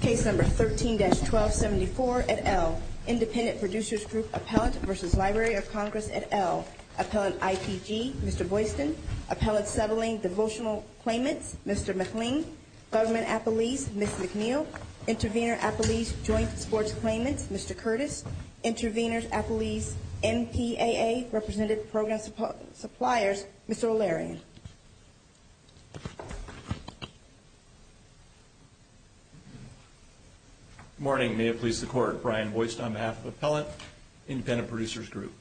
Case No. 13-1274, et al., Independent Producers Group Appellant v. Library of Congress, et al., Appellant ITG, Mr. Boyston, Appellant Settling Devotional Claimant, Mr. McLean, Settlement Appellees, Ms. McNeil, Intervenor Appellees Joint Support Claimant, Mr. Curtis, Intervenors Appellees, NPAA Represented Program Suppliers, Mr. O'Leary. Good morning. May it please the Court, Brian Boyston on behalf of the Appellant Independent Producers Group.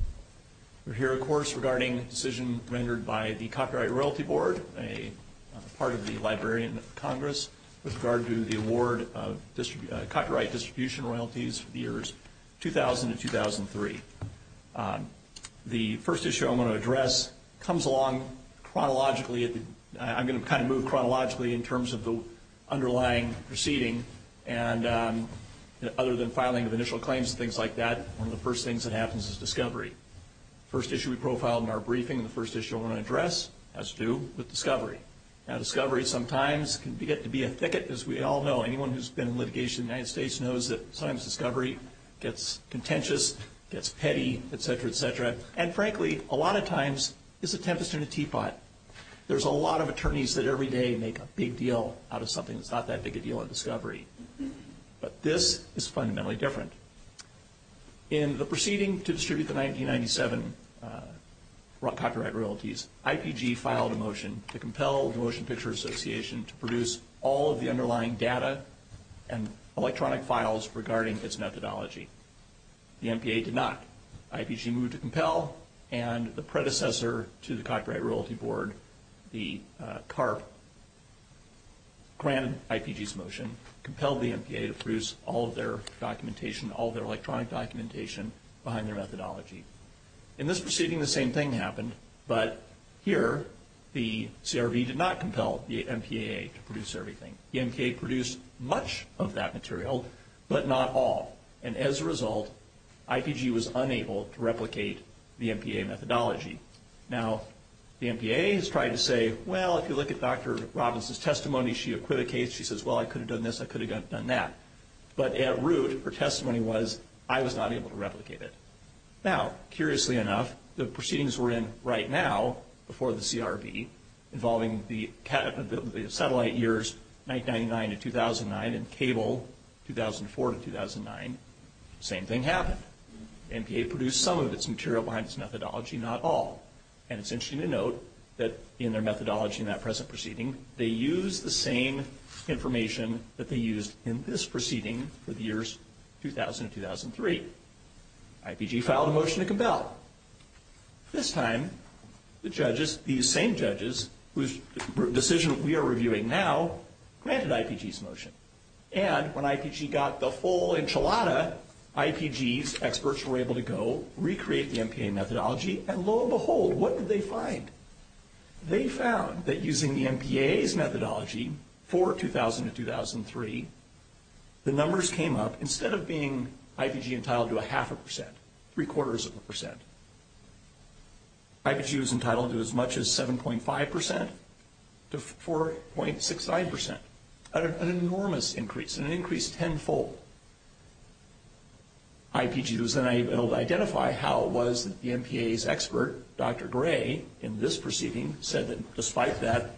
We're here, of course, regarding a decision rendered by the Copyright Royalty Board, a part of the Librarian of Congress, with regard to the award of copyright distribution royalties for the years 2000 and 2003. The first issue I'm going to address comes along chronologically. I'm going to kind of move chronologically in terms of the underlying proceeding. And other than filing of initial claims and things like that, one of the first things that happens is discovery. The first issue we profiled in our briefing, the first issue I want to address has to do with discovery. Now, discovery sometimes can get to be a thicket, as we all know. Anyone who's been in litigation in the United States knows that sometimes discovery gets contentious, gets petty, et cetera, et cetera. And frankly, a lot of times, it's a tempest in a teapot. There's a lot of attorneys that every day make a big deal out of something that's not that big a deal in discovery. But this is fundamentally different. In the proceeding to distribute the 1997 copyright royalties, IPG filed a motion to compel the Motion Picture Association to produce all of the underlying data and electronic files regarding its methodology. The MPA did not. IPG moved to compel, and the predecessor to the Copyright Royalty Board, the CARP, granted IPG's motion, compelled the MPA to produce all of their documentation, all of their electronic documentation behind their methodology. In this proceeding, the same thing happened, but here, the CRB did not compel the MPA to produce everything. The MPA produced much of that material, but not all. And as a result, IPG was unable to replicate the MPA methodology. Now, the MPA has tried to say, well, if you look at Dr. Robbins' testimony, she acquit a case. She says, well, I could have done this. I could have done that. But at root, her testimony was, I was not able to replicate it. Now, curiously enough, the proceedings we're in right now before the CRB involving the satellite years 1999 to 2009 and cable 2004 to 2009, same thing happened. The MPA produced some of its material behind its methodology, not all. And it's interesting to note that in their methodology in that present proceeding, they used the same information that they used in this proceeding for the years 2000 and 2003. IPG filed a motion to compel. This time, the judges, these same judges whose decision we are reviewing now, granted IPG's motion. And when IPG got the full enchilada, IPG's experts were able to go recreate the MPA methodology. And lo and behold, what did they find? They found that using the MPA's methodology for 2000 to 2003, the numbers came up. Instead of being IPG entitled to a half a percent, three-quarters of a percent, IPG was entitled to as much as 7.5% to 4.69%, an enormous increase, an increase tenfold. IPG was then able to identify how it was that the MPA's expert, Dr. Gray, in this proceeding, said that despite that,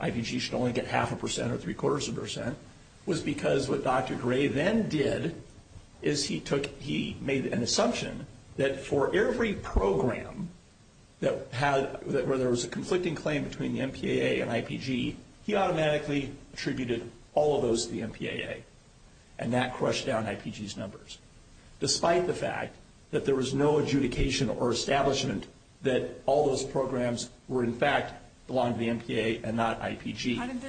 IPG should only get half a percent or three-quarters of a percent, was because what Dr. Gray then did is he made an assumption that for every program where there was a conflicting claim between the MPAA and IPG, he automatically attributed all of those to the MPAA. And that crushed down IPG's numbers, despite the fact that there was no adjudication or establishment that all those programs were, in fact, belonged to the MPAA and not IPG. How did the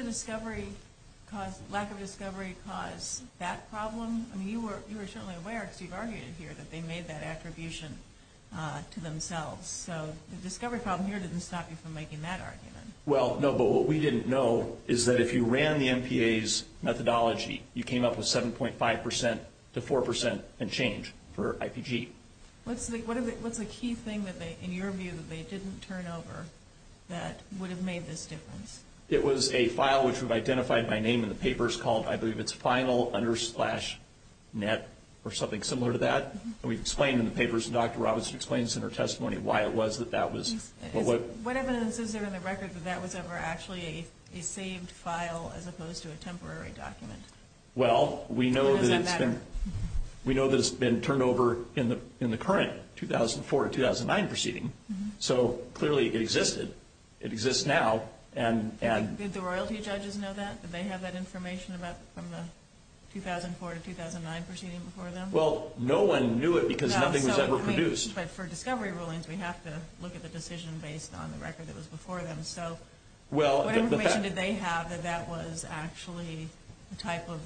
lack of discovery cause that problem? I mean, you were certainly aware, as you've argued here, that they made that attribution to themselves. So the discovery problem here didn't stop you from making that argument. Well, no, but what we didn't know is that if you ran the MPA's methodology, you came up with 7.5% to 4% and change for IPG. What's the key thing, in your view, that they didn't turn over that would have made this difference? It was a file, which we've identified by name in the papers, called, I believe it's final under splash net or something similar to that. And we explained in the papers, and Dr. Roberts explains in her testimony why it was that that was. What is the incentive in the record that that was ever actually a saved file as opposed to a temporary document? Well, we know that it's been turned over in the current 2004-2009 proceeding. So clearly it existed. It exists now. Did the royalty judges know that? Did they have that information from the 2004-2009 proceeding before them? Well, no one knew it because nothing was ever produced. But for discovery rulings, we have to look at the decision based on the record that was before them. So what information did they have that that was actually the type of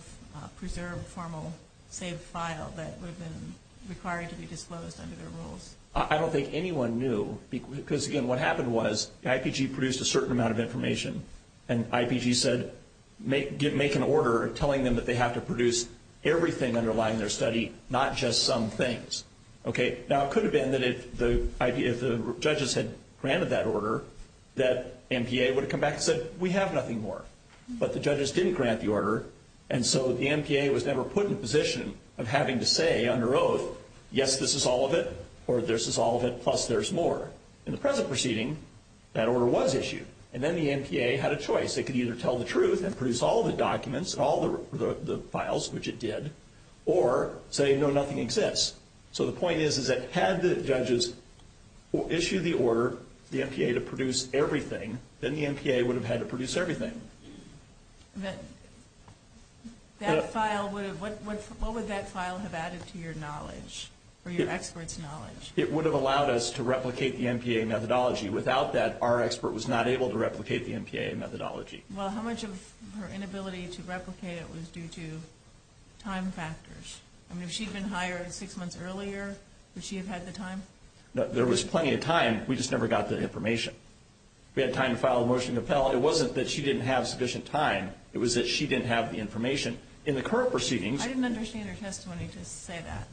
preserved formal saved file that would have been required to be disposed under their rules? I don't think anyone knew because, again, what happened was the IPG produced a certain amount of information. And IPG said, make an order telling them that they have to produce everything underlying their study, not just some things. Now, it could have been that if the judges had granted that order, that MPA would have come back and said, we have nothing more. But the judges didn't grant the order, and so the MPA was never put in the position of having to say under oath, yes, this is all of it, or this is all of it, plus there's more. In the present proceeding, that order was issued. And then the MPA had a choice. They could either tell the truth and produce all of the documents and all of the files, which it did, or say, no, nothing exists. So the point is that had the judges issued the order, the MPA to produce everything, then the MPA would have had to produce everything. What would that file have added to your knowledge or your expert's knowledge? It would have allowed us to replicate the MPA methodology. Without that, our expert was not able to replicate the MPA methodology. Well, how much of her inability to replicate it was due to time factors? I mean, if she'd been hired six months earlier, would she have had the time? There was plenty of time. We just never got that information. We had time to file a motion to appeal. Well, it wasn't that she didn't have sufficient time. It was that she didn't have the information. In the current proceedings – I didn't understand her testimony to say that.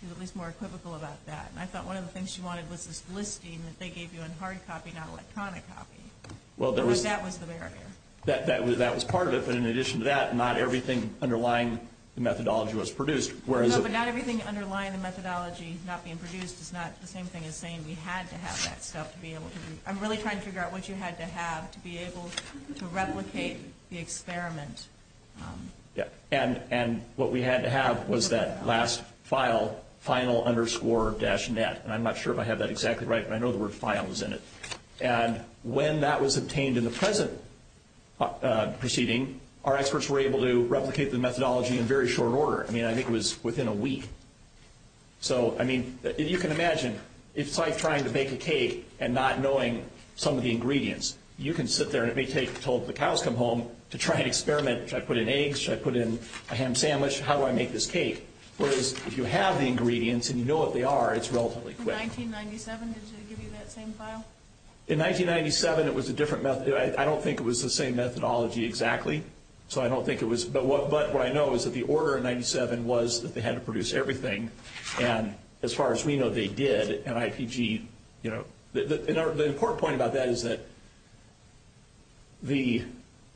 She was more equivocal about that. And I felt one of the things she wanted was this listing that they gave you in hard copy, not electronic copy. That was the barrier. That was part of it. But in addition to that, not everything underlying the methodology was produced. No, but not everything underlying the methodology not being produced is not the same thing as saying we had to have that stuff to be able to – I'm really trying to figure out what you had to have to be able to replicate the experiment. Yeah, and what we had to have was that last file, final underscore dash net. And I'm not sure if I have that exactly right, but I know the word file was in it. And when that was obtained in the present proceeding, our experts were able to replicate the methodology in very short order. I mean, I think it was within a week. So, I mean, you can imagine. It's like trying to bake a cake and not knowing some of the ingredients. You can sit there and it may take until the cows come home to try and experiment. Should I put in eggs? Should I put in a ham sandwich? How do I make this cake? Whereas if you have the ingredients and you know what they are, it's relatively quick. In 1997, did they give you that same file? In 1997, it was a different – I don't think it was the same methodology exactly. So, I don't think it was. But what I know is that the order in 1997 was that they had to produce everything. And as far as we know, they did. And IPG, you know, the important point about that is that the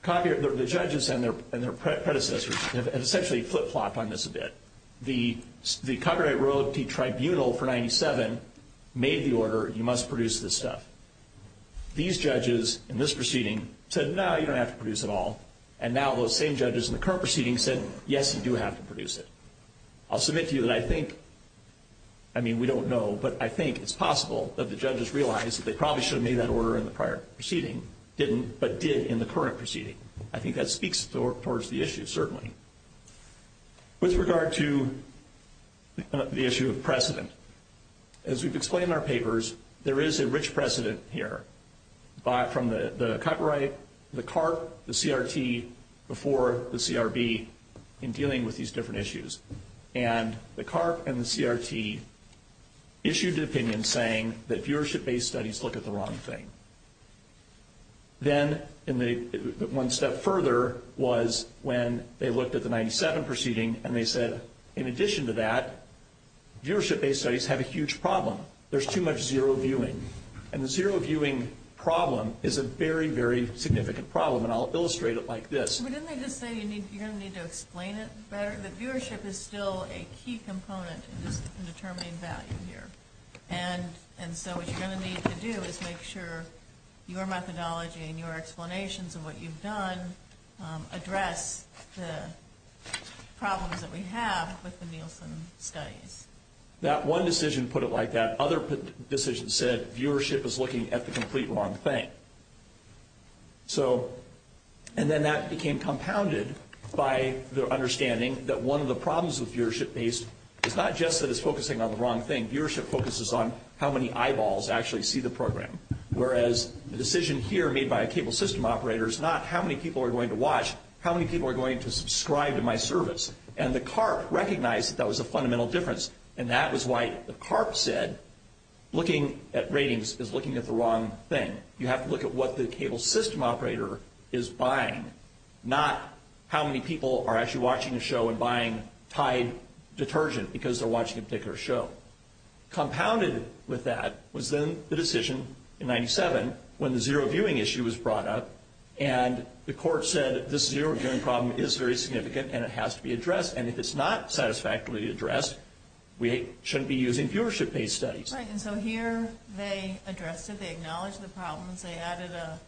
judges and their predecessors, and it's actually a flip-flop on this a bit, the Congregate Royalty Tribunal for 1997 made the order, you must produce this stuff. These judges in this proceeding said, no, you don't have to produce it all. And now those same judges in the current proceeding said, yes, you do have to produce it. I'll submit to you that I think – I mean, we don't know, but I think it's possible that the judges realized that they probably shouldn't have made that order in the prior proceeding, didn't, but did in the current proceeding. I think that speaks towards the issue, certainly. With regard to the issue of precedent, as we've explained in our papers, there is a rich precedent here from the copyright, the CARP, the CRT, before the CRB in dealing with these different issues. And the CARP and the CRT issued an opinion saying that viewership-based studies look at the wrong thing. Then one step further was when they looked at the 1997 proceeding and they said, in addition to that, viewership-based studies have a huge problem. There's too much zero-viewing. And the zero-viewing problem is a very, very significant problem, and I'll illustrate it like this. Didn't they just say you're going to need to explain it better? But viewership is still a key component in determining value here. And so what you're going to need to do is make sure your methodology and your explanations of what you've done address the problems that we have with the Nielsen studies. That one decision put it like that. Other decisions said viewership is looking at the complete wrong thing. And then that became compounded by the understanding that one of the problems with viewership-based is not just that it's focusing on the wrong thing. Viewership focuses on how many eyeballs actually see the program, whereas the decision here made by a cable system operator is not how many people are going to watch, how many people are going to subscribe to my service. And the CARP recognized that that was a fundamental difference, and that was why the CARP said looking at ratings is looking at the wrong thing. You have to look at what the cable system operator is buying, not how many people are actually watching the show and buying Tide detergent because they're watching a particular show. Compounded with that was then the decision in 97 when the zero-viewing issue was brought up, and the court said this zero-viewing problem is very significant and it has to be addressed. And if it's not satisfactorily addressed, we shouldn't be using viewership-based studies. Right, and so here they addressed it. They acknowledged the problem. They added a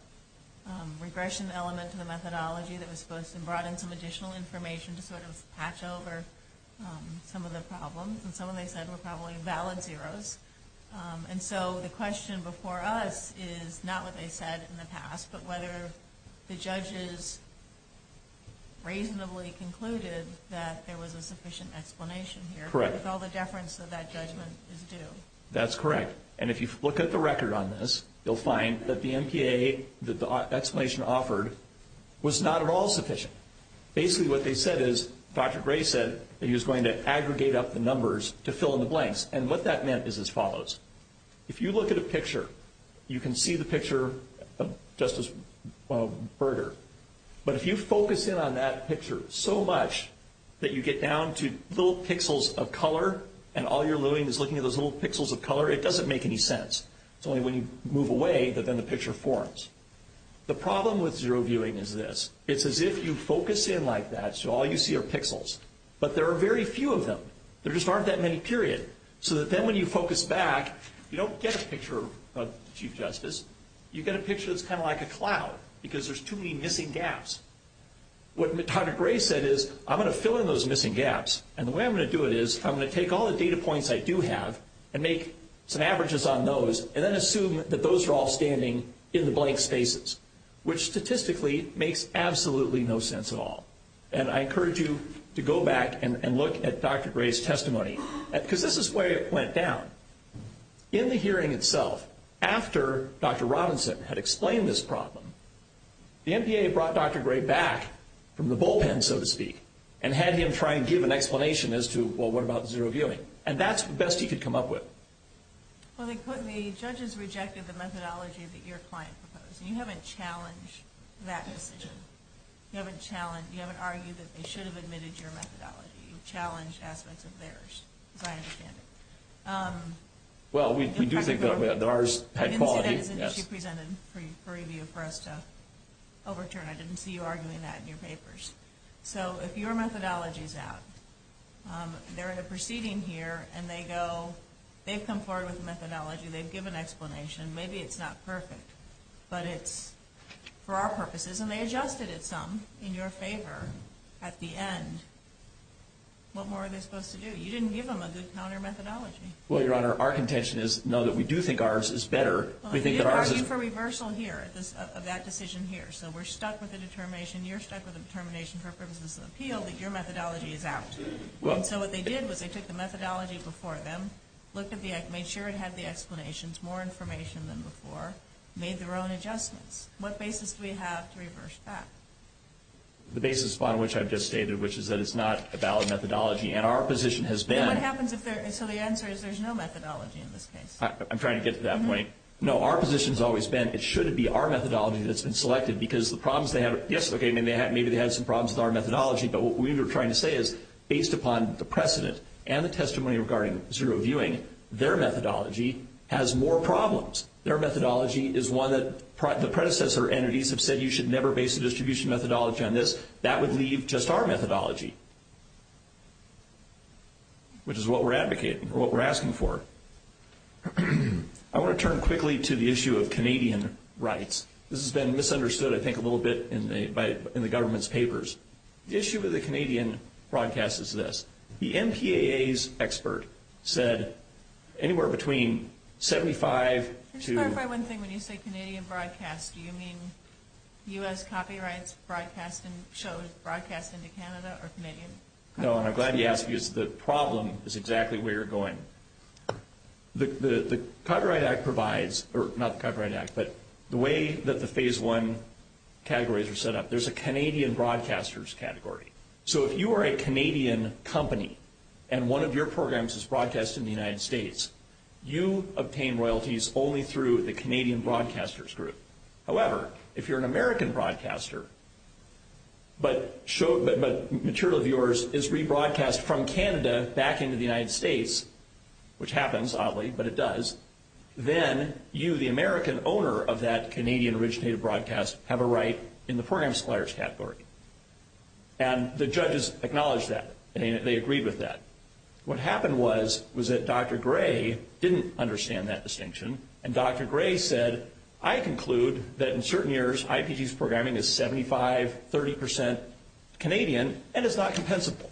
regression element to the methodology that was supposed to broaden some additional information to sort of patch over some of the problems. And some of them said were probably valid zeros. And so the question before us is not what they said in the past, but whether the judges reasonably concluded that there was a sufficient explanation here. Correct. Because all the deference of that judgment is due. That's correct. And if you look at the record on this, you'll find that the MPA that the explanation offered was not at all sufficient. Basically what they said is Dr. Gray said that he was going to aggregate up the numbers to fill in the blanks. And what that meant is as follows. If you look at a picture, you can see the picture just as a burger. But if you focus in on that picture so much that you get down to little pixels of color and all you're doing is looking at those little pixels of color, it doesn't make any sense. It's only when you move away that then the picture forms. The problem with zero viewing is this. It's as if you focus in like that so all you see are pixels. But there are very few of them. There just aren't that many, period. So then when you focus back, you don't get a picture of Chief Justice. You get a picture that's kind of like a cloud because there's too many missing gaps. What Dr. Gray said is I'm going to fill in those missing gaps, and the way I'm going to do it is I'm going to take all the data points I do have and make some averages on those and then assume that those are all standing in blank spaces, which statistically makes absolutely no sense at all. And I encourage you to go back and look at Dr. Gray's testimony because this is where it went down. In the hearing itself, after Dr. Robinson had explained this problem, the MPA had brought Dr. Gray back from the bullpen, so to speak, and had him try and give an explanation as to, well, what about zero viewing? And that's the best he could come up with. Well, they put me, judges rejected the methodology that your client proposed. You haven't challenged that decision. You haven't argued that they should have admitted your methodology. You've challenged aspects of theirs. Well, we do think that ours is high quality. I didn't get it because she presented a preview for us to overturn it. I didn't see you arguing that in your papers. So if your methodology is out, they're in a proceeding here, and they go, they've come forward with a methodology, they've given an explanation, maybe it's not perfect, but it's for our purposes, and they adjusted it some in your favor at the end. What more are they supposed to do? You didn't give them a discount on their methodology. Well, Your Honor, our contention is, no, that we do think ours is better. We think that ours is – Well, I'm just asking for reversal here of that decision here. So we're stuck with the determination, you're stuck with the determination for purposes of appeal that your methodology is out. So what they did was they took the methodology before them, looked at the – made sure it had the explanations, more information than before, made their own adjustments. What basis do we have to reverse that? The basis upon which I've just stated, which is that it's not a valid methodology, and our position has been – What happens if there – so the answer is there's no methodology in this case. I'm trying to get to that point. No, our position has always been it should be our methodology that's been selected, because the problems they have – yes, okay, maybe they have some problems with our methodology, but what we were trying to say is, based upon the precedent and the testimony regarding zero viewing, their methodology has more problems. Their methodology is one that the predecessor entities have said, you should never base a distribution methodology on this. That would leave just our methodology, which is what we're advocating, or what we're asking for. I want to turn quickly to the issue of Canadian rights. This has been misunderstood, I think, a little bit in the government's papers. The issue with the Canadian broadcast is this. The NTAA's expert said anywhere between 75 to – Can you clarify one thing when you say Canadian broadcast? Do you mean U.S. copyright shows broadcast into Canada or Canadian? No, and I'm glad you asked because the problem is exactly where you're going. The Copyright Act provides – or not the Copyright Act, but the way that the Phase I categories are set up, there's a Canadian broadcasters category. If you are a Canadian company and one of your programs is broadcast in the United States, you obtain royalties only through the Canadian broadcasters group. However, if you're an American broadcaster but material of yours is rebroadcast from Canada back into the United States, which happens, oddly, but it does, then you, the American owner of that Canadian-originated broadcast, have a right in the Program Explorers category. And the judges acknowledged that. They agreed with that. What happened was that Dr. Gray didn't understand that distinction, and Dr. Gray said, I conclude that in certain years, IPG's programming is 75, 30% Canadian, and it's not compensable.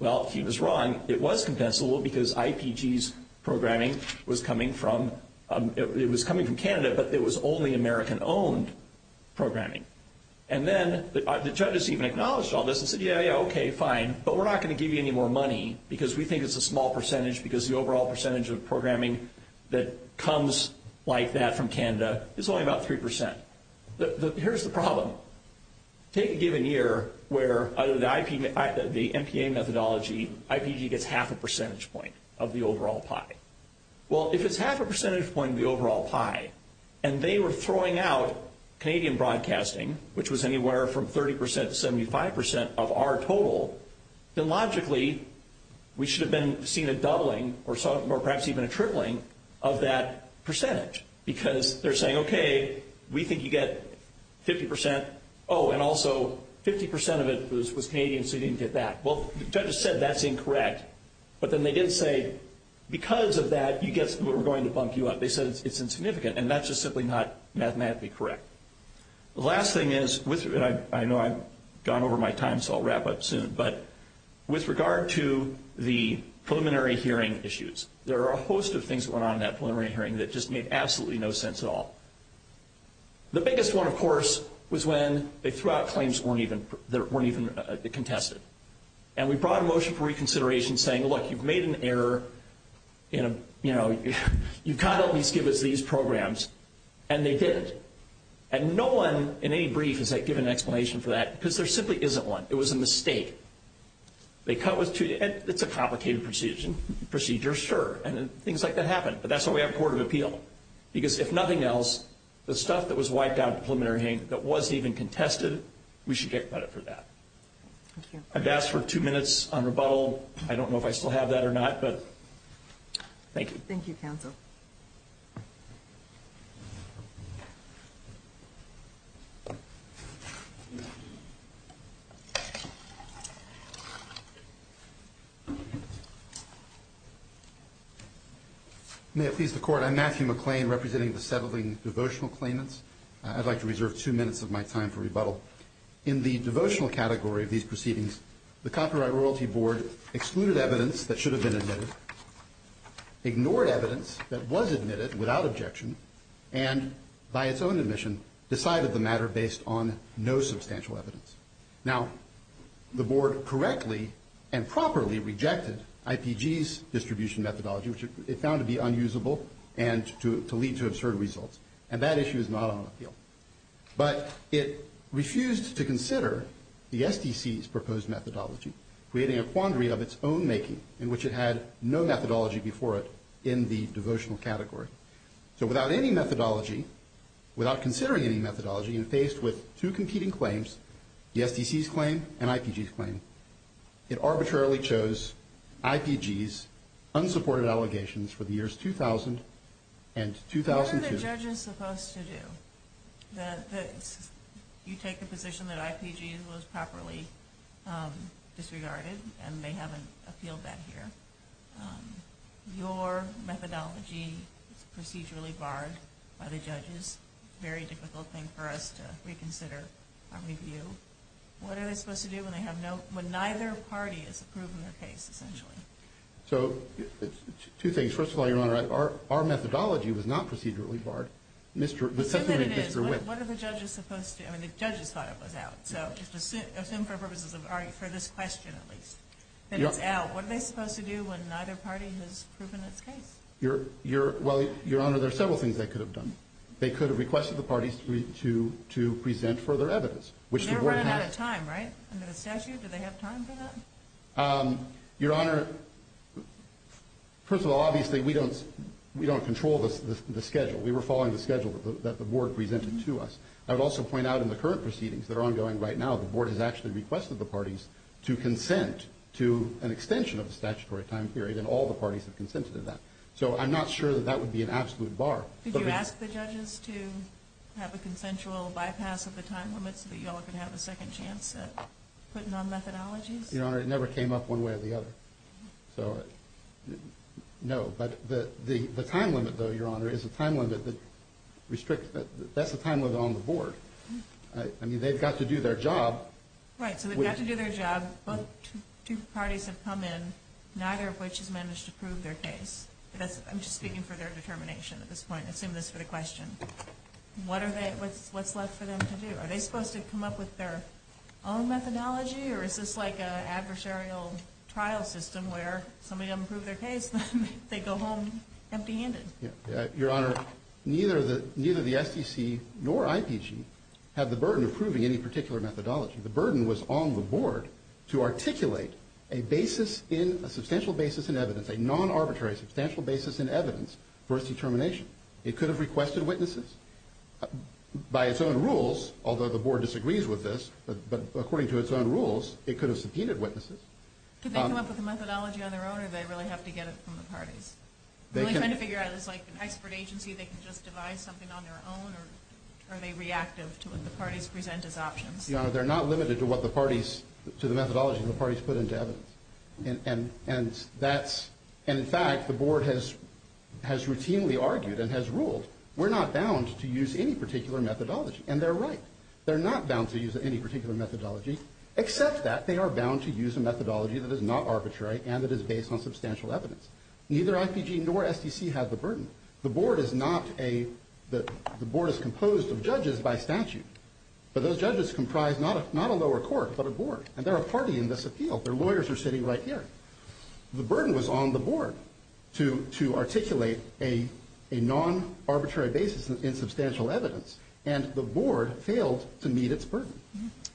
Well, he was wrong. It was compensable because IPG's programming was coming from – it was coming from Canada, but it was only American-owned programming. And then the judges even acknowledged all this and said, yeah, yeah, okay, fine, but we're not going to give you any more money because we think it's a small percentage because the overall percentage of programming that comes like that from Canada is only about 3%. Here's the problem. Take a given year where the MPA methodology, IPG gets half a percentage point of the overall pie. Well, if it's half a percentage point of the overall pie and they were throwing out Canadian broadcasting, which was anywhere from 30% to 75% of our total, then logically we should have seen a doubling or perhaps even a tripling of that percentage because they're saying, okay, we think you get 50%. Oh, and also 50% of it was Canadian, so you didn't get that. Well, the judges said that's incorrect, but then they didn't say because of that we're going to bump you up. They said it's insignificant, and that's just simply not mathematically correct. The last thing is – and I know I've gone over my time, so I'll wrap up soon – but with regard to the preliminary hearing issues, there are a host of things that went on in that preliminary hearing that just made absolutely no sense at all. The biggest one, of course, was when they threw out claims that weren't even contested, and we brought a motion for reconsideration saying, look, you've made an error. You've got to at least give us these programs, and they did it. And no one in any brief has given an explanation for that because there simply isn't one. It was a mistake. It's a complicated procedure, sure, and things like that happen, but that's why we have a Court of Appeal because if nothing else, the stuff that was wiped out in the preliminary hearing that wasn't even contested, we should get credit for that. Thank you. I've asked for two minutes on rebuttal. I don't know if I still have that or not, but thank you. Thank you, counsel. May it please the Court, I'm Matthew McLean, representing the Settling Devotional Claimants. I'd like to reserve two minutes of my time for rebuttal. In the devotional category of these proceedings, the Copyright Royalty Board excluded evidence that should have been admitted, ignored evidence that was admitted without objection, and by its own admission decided the matter based on no substantial evidence. Now, the Board correctly and properly rejected IPG's distribution methodology, which it found to be unusable and to lead to absurd results, and that issue is not on appeal. But it refused to consider the SBC's proposed methodology, creating a quandary of its own making, in which it had no methodology before it in the devotional category. So without any methodology, without considering any methodology, and faced with two competing claims, the SBC's claim and IPG's claim, it arbitrarily chose IPG's unsupported allegations for the years 2000 and 2002. What are the judges supposed to do? You take the position that IPG was properly disregarded, and they haven't appealed that here. Your methodology is procedurally barred by the judges. It's a very difficult thing for us to reconsider our review. What are they supposed to do when neither party has approved their case, essentially? So it's two things. First of all, Your Honor, our methodology was not procedurally barred. It was something that just grew in. What are the judges supposed to do? I mean, the judges thought it was out. So for the purposes of this question, at least, that it's out, what are they supposed to do when neither party has proven its case? Well, Your Honor, there are several things they could have done. They could have requested the parties to present further evidence. They're running out of time, right? In the statute, do they have time for that? Your Honor, first of all, obviously, we don't control the schedule. We were following the schedule that the Board presented to us. I would also point out in the current proceedings that are ongoing right now, the Board has actually requested the parties to consent to an extension of the statutory time period, and all the parties have consented to that. So I'm not sure that that would be an absolute bar. Did you ask the judges to have a consensual bypass of the time limit so that you all could have a second chance at putting on methodologies? Your Honor, it never came up one way or the other. So, no. But the time limit, though, Your Honor, is a time limit that restricts – that's a time limit on the Board. I mean, they've got to do their job. Right. So they've got to do their job. Both parties have come in, neither of which has managed to prove their case. I'm just speaking for their determination at this point. I assume that's for the question. What are they – what's left for them to do? Are they supposed to come up with their own methodology, or is this like an adversarial trial system where somebody doesn't prove their case, they go home empty-handed? Your Honor, neither the SEC nor IPG have the burden of proving any particular methodology. The burden was on the Board to articulate a basis in – a substantial basis in evidence, a non-arbitrary substantial basis in evidence for its determination. It could have requested witnesses. By its own rules, although the Board disagrees with this, but according to its own rules, it could have subpoenaed witnesses. Could they come up with a methodology on their own, or do they really have to get it from the parties? Are they trying to figure out if it's like an expert agency, they can just devise something on their own, or are they reactive to what the parties present as options? Your Honor, they're not limited to what the parties – to the methodology the parties put into evidence. And that's – and, in fact, the Board has routinely argued and has ruled we're not bound to use any particular methodology, and they're right. They're not bound to use any particular methodology, except that they are bound to use a methodology that is not arbitrary and that is based on substantial evidence. Neither IPG nor SEC has the burden. The Board is not a – the Board is composed of judges by statute, but those judges comprise not a lower court but a Board, and they're a party in this appeal. Their lawyers are sitting right here. The burden is on the Board to articulate a non-arbitrary basis in substantial evidence, and the Board failed to meet its burden.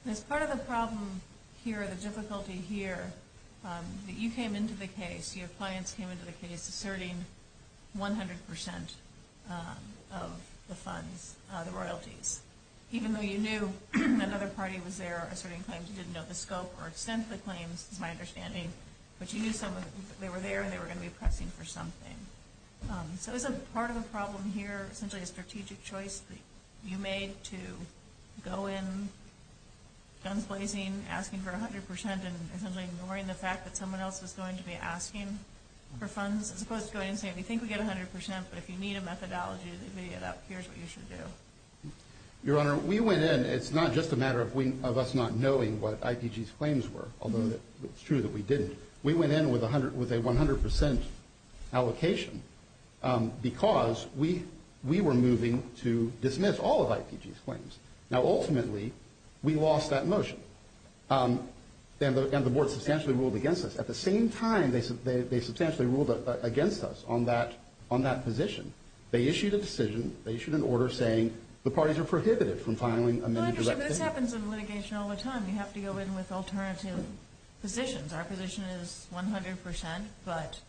As part of the problem here, the difficulty here, that you came into the case, your clients came into the case asserting 100 percent of the funds, the royalties, even though you knew another party was there asserting funds. You didn't know the scope or extent of the claim, my understanding, but you knew someone – they were there and they were going to be collecting for something. So is a part of the problem here essentially a strategic choice that you made to go in, fundraising, asking for 100 percent and ignoring the fact that someone else was going to be asking for funds and for us to go in and say, we think we get 100 percent, but if you need a methodology to make it up, here's what you should do. Your Honor, we went in. It's not just a matter of us not knowing what IPG's claims were, although it's true that we did. We went in with a 100 percent allocation because we were moving to dismiss all of IPG's claims. Now, ultimately, we lost that motion, and the Board substantially ruled against us. At the same time, they substantially ruled against us on that position. They issued a decision. They issued an order saying the parties are prohibited from filing amendments. Well, this happens in litigation all the time. You have to go in with alternative positions. Our position is 100 percent, but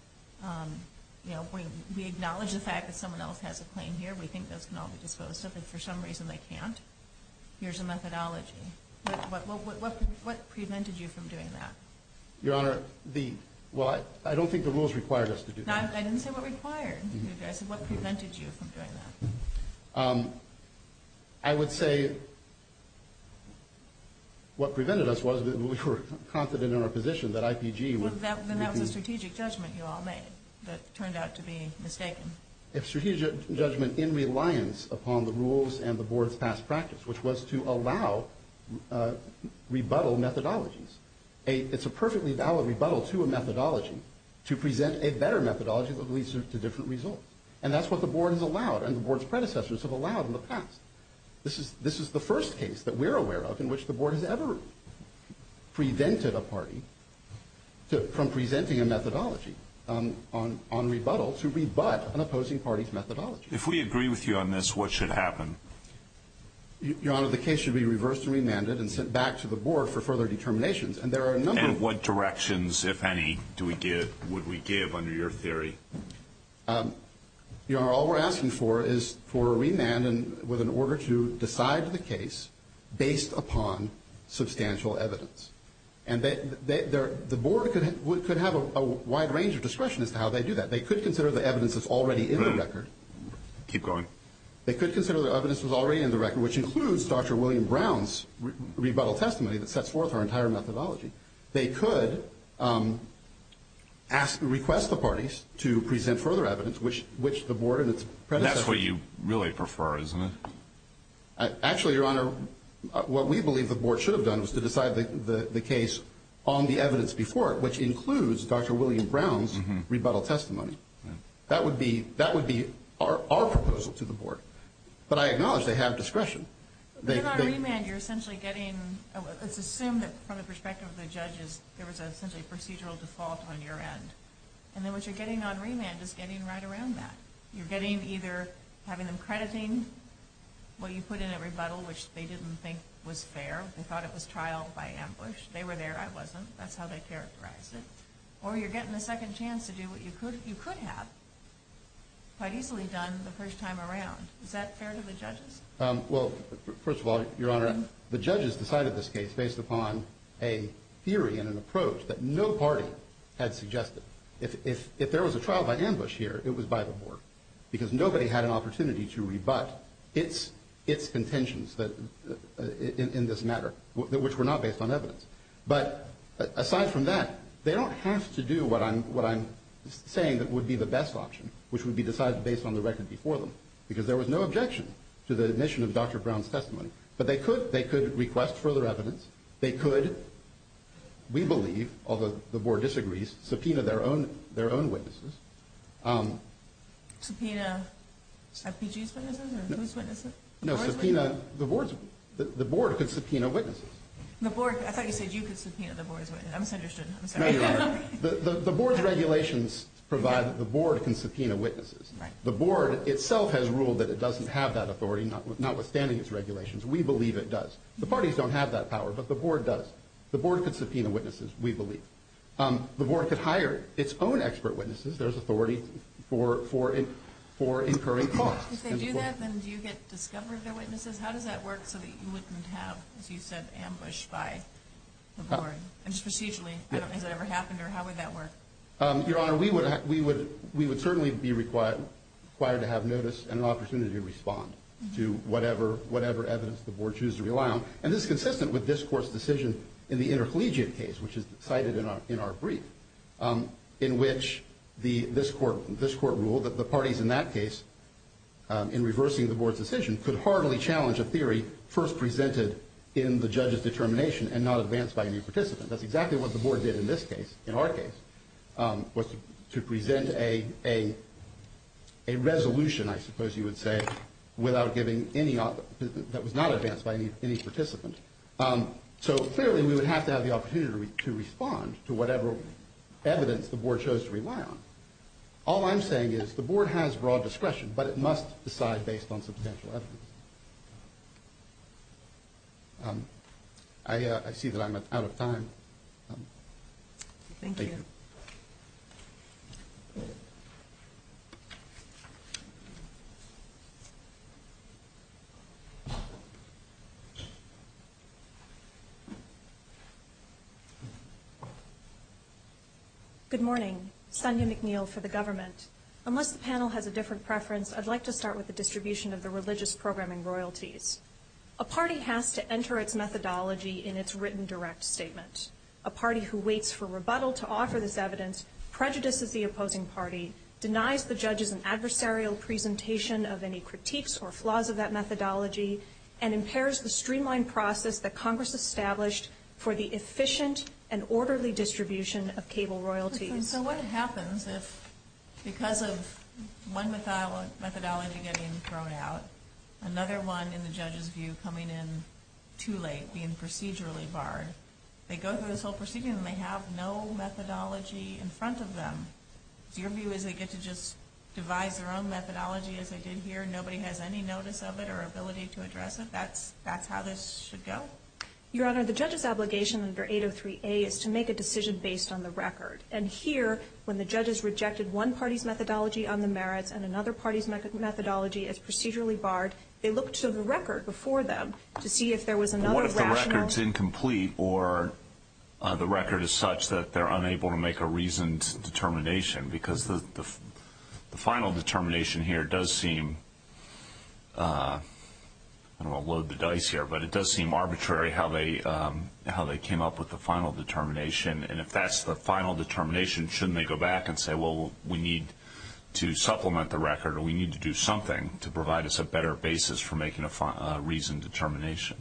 we acknowledge the fact that someone else has a claim here. We think this can all be disclosed, but for some reason they can't. Here's a methodology. What prevented you from doing that? Your Honor, well, I don't think the rules required us to do that. I didn't say what required you to do that. I said what prevented you from doing that. I would say what prevented us was that we were confident in our position that IPG was Then that was a strategic judgment you all made that turned out to be mistaken. A strategic judgment in reliance upon the rules and the Board's past practice, which was to allow rebuttal methodologies. It's a perfectly valid rebuttal to a methodology to present a better methodology that leads to different results. And that's what the Board has allowed and the Board's predecessors have allowed in the past. This is the first case that we're aware of in which the Board has ever presented a party, from presenting a methodology on rebuttal to rebut an opposing party's methodology. If we agree with you on this, what should happen? Your Honor, the case should be reversed and remanded and sent back to the Board for further determinations. And what directions, if any, would we give under your theory? Your Honor, all we're asking for is for a remand with an order to decide the case based upon substantial evidence. And the Board could have a wide range of discretion as to how they do that. They could consider the evidence that's already in the record. Keep going. They could consider the evidence that's already in the record, which includes Dr. William Brown's rebuttal testimony that sets forth our entire methodology. They could ask and request the parties to present further evidence, which the Board and its predecessors. That's what you really prefer, isn't it? Actually, Your Honor, what we believe the Board should have done was to decide the case on the evidence before it, which includes Dr. William Brown's rebuttal testimony. That would be our proposal to the Board. But I acknowledge they have discretion. If they're not remanded, you're essentially getting – let's assume that from the perspective of the judges, there was essentially a procedural default on your end. And then what you're getting on remand is getting right around that. You're getting either having them crediting what you put in at rebuttal, which they didn't think was fair. They thought it was trial by ambush. They were there. I wasn't. That's how they characterized it. Or you're getting a second chance to do what you could have quite easily done the first time around. Is that fair to the judges? Well, first of all, Your Honor, the judges decided this case based upon a theory and an approach that no party had suggested. If there was a trial by ambush here, it was by the Board, because nobody had an opportunity to rebut its intentions in this matter, which were not based on evidence. But aside from that, they don't have to do what I'm saying would be the best option, which would be decided based on the record before them, because there was no objection to the admission of Dr. Brown's testimony. But they could request further evidence. They could, we believe, although the Board disagrees, subpoena their own witnesses. Subpoena FBG's witnesses or his witnesses? No, subpoena – the Board could subpoena witnesses. The Board – I thought you said you could subpoena the Board's witnesses. I'm sorry. The Board's regulations provide that the Board can subpoena witnesses. The Board itself has ruled that it doesn't have that authority, notwithstanding its regulations. We believe it does. The parties don't have that power, but the Board does. The Board could subpoena witnesses, we believe. The Board could hire its own expert witnesses. There's authority for incurring costs. If they do that, then do you get to subpoena their witnesses? How does that work so that you wouldn't have, as you said, ambushed by the Board? And procedurally, I don't think that ever happened there. How would that work? Your Honor, we would certainly be required to have notice and an opportunity to respond to whatever evidence the Board chooses to rely on. And this is consistent with this Court's decision in the intercollegiate case, which is cited in our brief, in which this Court ruled that the parties in that case, in reversing the Board's decision, could hardly challenge a theory first presented in the judge's determination and not advanced by any participant. That's exactly what the Board did in this case, in our case, was to present a resolution, I suppose you would say, that was not advanced by any participant. So clearly, we would have to have the opportunity to respond to whatever evidence the Board chose to rely on. All I'm saying is the Board has broad discretion, but it must decide based on potential arguments. I see that I'm out of time. Thank you. Thank you. Good morning. Sunday McNeil for the government. Unless the panel has a different preference, I'd like to start with the distribution of the religious programming royalties. A party has to enter its methodology in its written direct statement. A party who waits for rebuttal to offer this evidence, prejudices the opposing party, denies the judge's adversarial presentation of any critiques or flaws of that methodology, and impairs the streamlined process that Congress established for the efficient and orderly distribution of cable royalties. So what happens is, because of one methodology getting thrown out, another one, in the judge's view, coming in too late, being procedurally barred, they go through this whole procedure and they have no methodology in front of them. Your view is they get to just divide their own methodology as they did here, and nobody has any notice of it or ability to address it? That's how this should go? Your Honor, the judge's obligation under 803A is to make a decision based on the record. And here, when the judges rejected one party's methodology on the merits and another party's methodology as procedurally barred, they looked to the record before them to see if there was another rationale. So the record's incomplete, or the record is such that they're unable to make a reasoned determination, because the final determination here does seem, I'm going to load the dice here, but it does seem arbitrary how they came up with the final determination. And if that's the final determination, shouldn't they go back and say, well, we need to supplement the record, or we need to do something to provide us a better basis for making a reasoned determination?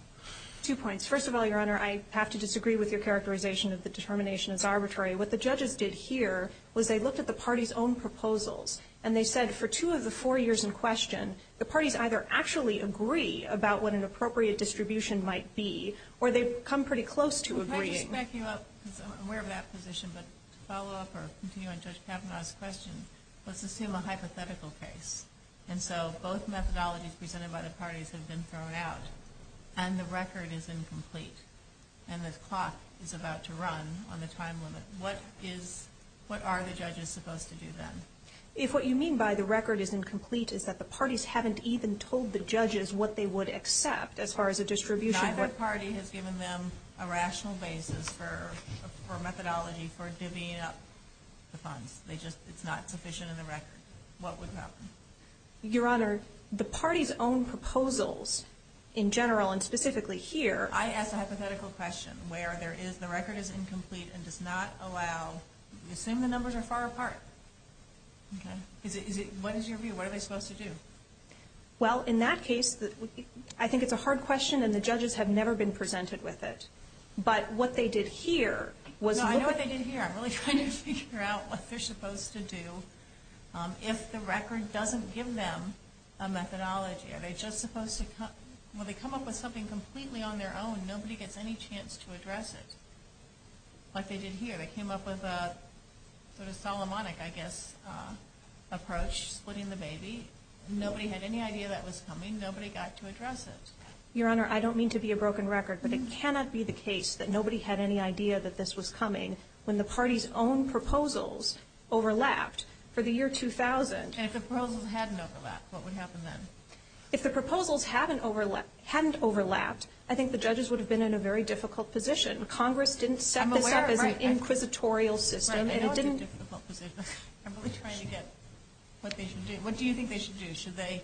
Two points. First of all, Your Honor, I have to disagree with your characterization that the determination is arbitrary. What the judges did here was they looked at the parties' own proposals, and they said for two of the four years in question, the parties either actually agree about what an appropriate distribution might be, or they've come pretty close to agreeing. To back you up, because I'm aware of that position, but to follow up or continue on Judge Kavanaugh's question, let's assume a hypothetical case. And so both methodologies presented by the parties have been thrown out, and the record is incomplete, and the cost is about to run on the time limit. What are the judges supposed to do then? If what you mean by the record is incomplete is that the parties haven't even told the judges what they would accept as far as a distribution. Not what party has given them a rational basis for methodology for divvying up the funds. It's not sufficient in the record. What would happen? Your Honor, the parties' own proposals in general and specifically here. I ask a hypothetical question where the record is incomplete and does not allow... Assume the numbers are far apart. What is your view? What are they supposed to do? Well, in that case, I think it's a hard question, and the judges have never been presented with it. But what they did here was... I know what they did here. I'm really trying to figure out what they're supposed to do. If the record doesn't give them a methodology, are they just supposed to... When they come up with something completely on their own, nobody gets any chance to address it. Like they did here. They came up with a sort of Solomonic, I guess, approach, splitting the baby. Nobody had any idea that was coming. Nobody got to address it. Your Honor, I don't mean to be a broken record, but it cannot be the case that nobody had any idea that this was coming when the parties' own proposals overlapped for the year 2000. And if the proposals hadn't overlapped, what would happen then? If the proposals hadn't overlapped, I think the judges would have been in a very difficult position. Congress didn't set this up as an inquisitorial system, and it didn't... I'm really trying to get what they should do. What do you think they should do? Should they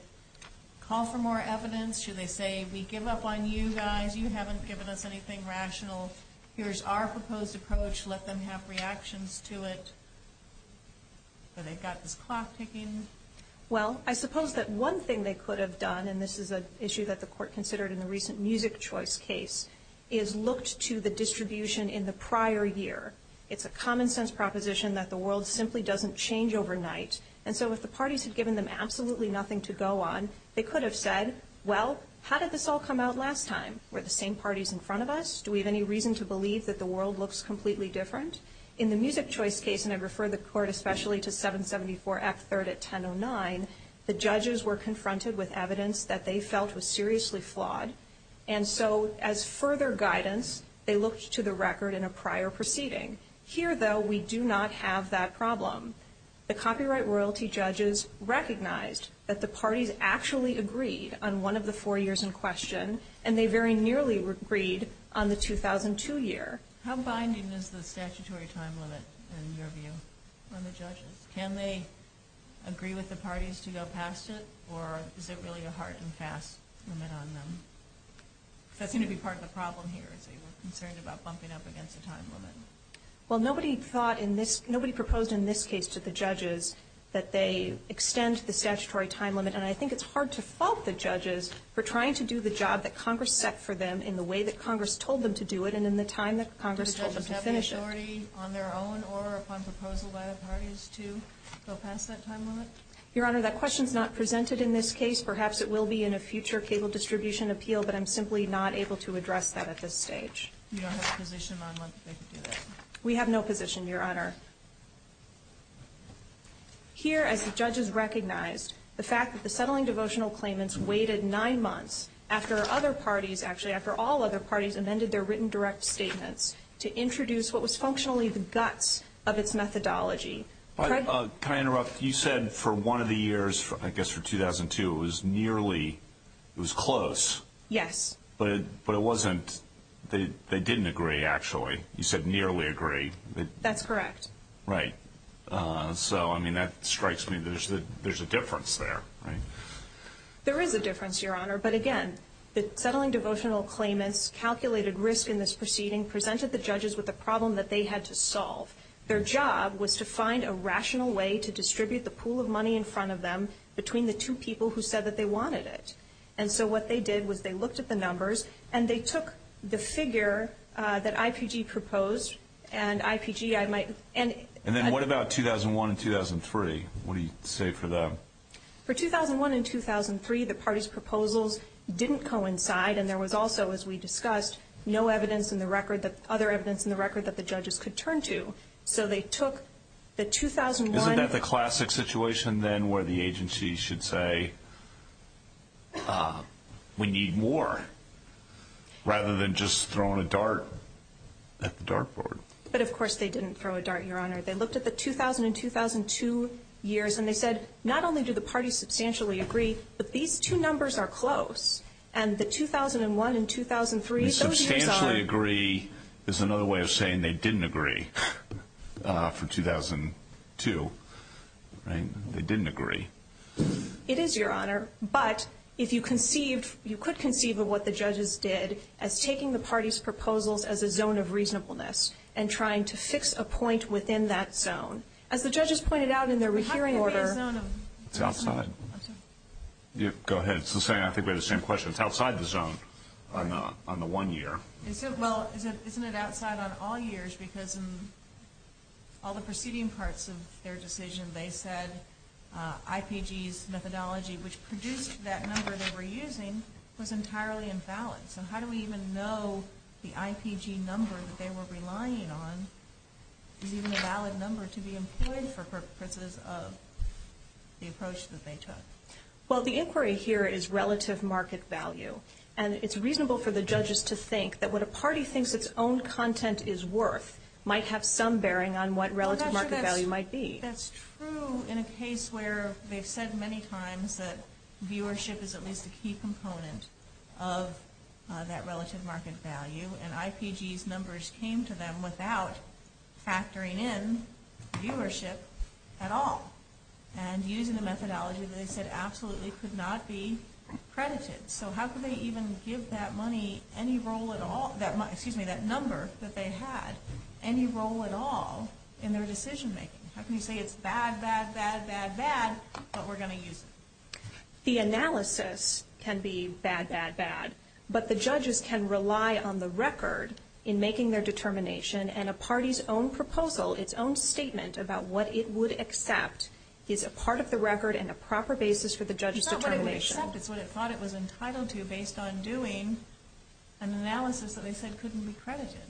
call for more evidence? Should they say, we give up on you guys. You haven't given us anything rational. Here's our proposed approach. Let them have reactions to it. So they've got this clock ticking. Well, I suppose that one thing they could have done, and this is an issue that the Court considered in the recent music choice case, is looked to the distribution in the prior year. It's a common sense proposition that the world simply doesn't change overnight. And so if the parties had given them absolutely nothing to go on, they could have said, well, how did this all come out last time? Were the same parties in front of us? Do we have any reason to believe that the world looks completely different? In the music choice case, and I refer the Court especially to 774X3 at 1009, the judges were confronted with evidence that they felt was seriously flawed. And so as further guidance, they looked to the record in a prior proceeding. Here, though, we do not have that problem. The copyright royalty judges recognized that the parties actually agreed on one of the four years in question, and they very nearly agreed on the 2002 year. How binding is the statutory time limit, in your view, on the judges? Can they agree with the parties to go past it, or is it really a hard and fast limit on them? That's going to be part of the problem here, too, concerned about bumping up against the time limit. Well, nobody thought in this – nobody proposed in this case to the judges that they extend the statutory time limit. And I think it's hard to fault the judges for trying to do the job that Congress set for them in the way that Congress told them to do it and in the time that Congress told them to finish it. Do the judges have authority on their own or upon proposal by the parties to go past that time limit? Your Honor, that question is not presented in this case. Perhaps it will be in a future Cable Distribution Appeal, but I'm simply not able to address that at this stage. You don't have a position on whether they can do that? We have no position, Your Honor. Here, as the judges recognized, the fact that the settling devotional claimants waited nine months after other parties – actually, after all other parties amended their written direct statements to introduce what was functionally the guts of its methodology. Can I interrupt? You said for one of the years, I guess for 2002, it was nearly – it was close. Yes. But it wasn't – they didn't agree, actually. You said nearly agree. That's correct. Right. So, I mean, that strikes me. There's a difference there, right? There is a difference, Your Honor. But, again, the settling devotional claimants calculated risk in this proceeding, presented the judges with a problem that they had to solve. Their job was to find a rational way to distribute the pool of money in front of them between the two people who said that they wanted it. And so what they did was they looked at the numbers, and they took the figure that IPG proposed, and IPG, I might – And then what about 2001 and 2003? What do you say for that? For 2001 and 2003, the parties' proposals didn't coincide, and there was also, as we discussed, no evidence in the record – other evidence in the record that the judges could turn to. So they took the 2001 – Isn't that the classic situation, then, where the agency should say, we need more, rather than just throwing a dart at the dartboard. But, of course, they didn't throw a dart, Your Honor. They looked at the 2000 and 2002 years, and they said, not only do the parties substantially agree, but these two numbers are close. And the 2001 and 2003 – Substantially agree is another way of saying they didn't agree for 2002. They didn't agree. It is, Your Honor. But if you conceive – you could conceive of what the judges did as taking the parties' proposals as a zone of reasonableness and trying to fix a point within that zone. As the judges pointed out in their referring order – I think it's a zone. It's outside. Go ahead. I think we had the same question. It's outside of the zone on the one year. Well, isn't it outside on all years, because in all the preceding parts of their decision, they said IPG's methodology, which produced that number that we're using, was entirely invalid. So how do we even know the IPG numbers they were relying on, using a valid number, to be employed for purposes of the approach that they took? Well, the inquiry here is relative market value. And it's reasonable for the judges to think that what a party thinks its own content is worth might have some bearing on what relative market value might be. That's true in a case where they've said many times that viewership is at least a key component of that relative market value, and IPG's numbers came to them without factoring in viewership at all, and using the methodology that they said absolutely could not be credited. So how could they even give that number that they had any role at all in their decision-making? How can you say it's bad, bad, bad, bad, bad, but we're going to use it? The analysis can be bad, bad, bad, but the judges can rely on the record in making their determination, and a party's own proposal, its own statement about what it would accept, is a part of the record and a proper basis for the judge's determination. In fact, it's what it thought it was entitled to, based on doing an analysis that they said couldn't be credited.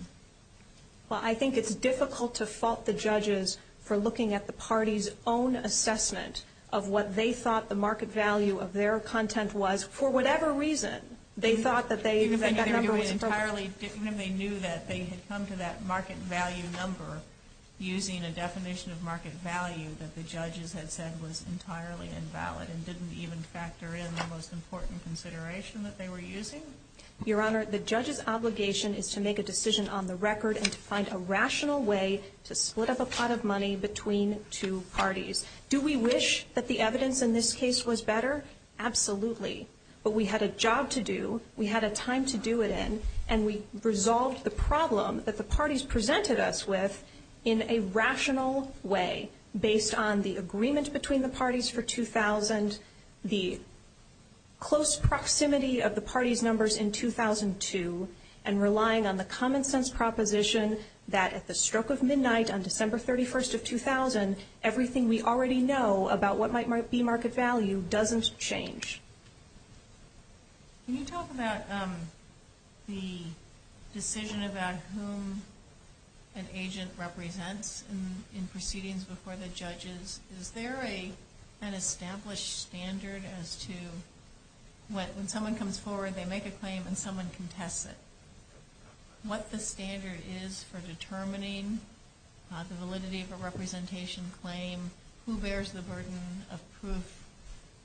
Well, I think it's difficult to fault the judges for looking at the party's own assessment of what they thought the market value of their content was, for whatever reason. They thought that that number was improper. Even if they knew that they had come to that market value number using a definition of market value that the judges had said was entirely invalid and didn't even factor in the most important consideration that they were using. Your Honor, the judge's obligation is to make a decision on the record and to find a rational way to split up a pot of money between two parties. Do we wish that the evidence in this case was better? Absolutely. But we had a job to do, we had a time to do it in, and we resolved the problem that the parties presented us with in a rational way, based on the agreement between the parties for 2000, the close proximity of the parties' numbers in 2002, and relying on the common sense proposition that at the stroke of midnight on December 31st of 2000, everything we already know about what might be market value doesn't change. Can you talk about the decision about whom an agent represents in proceedings before the judges? Is there an established standard as to when someone comes forward, they make a claim and someone contests it? What the standard is for determining the validity of a representation claim, who bears the burden of proof,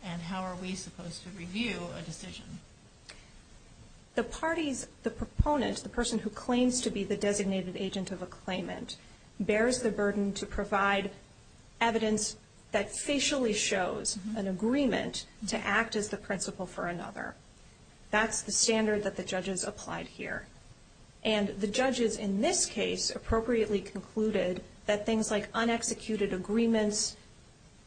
and how are we supposed to review a decision? The parties, the proponent, the person who claims to be the designated agent of a claimant, bears the burden to provide evidence that facially shows an agreement to act as the principle for another. That's the standard that the judges applied here. And the judges in this case appropriately concluded that things like unexecuted agreements,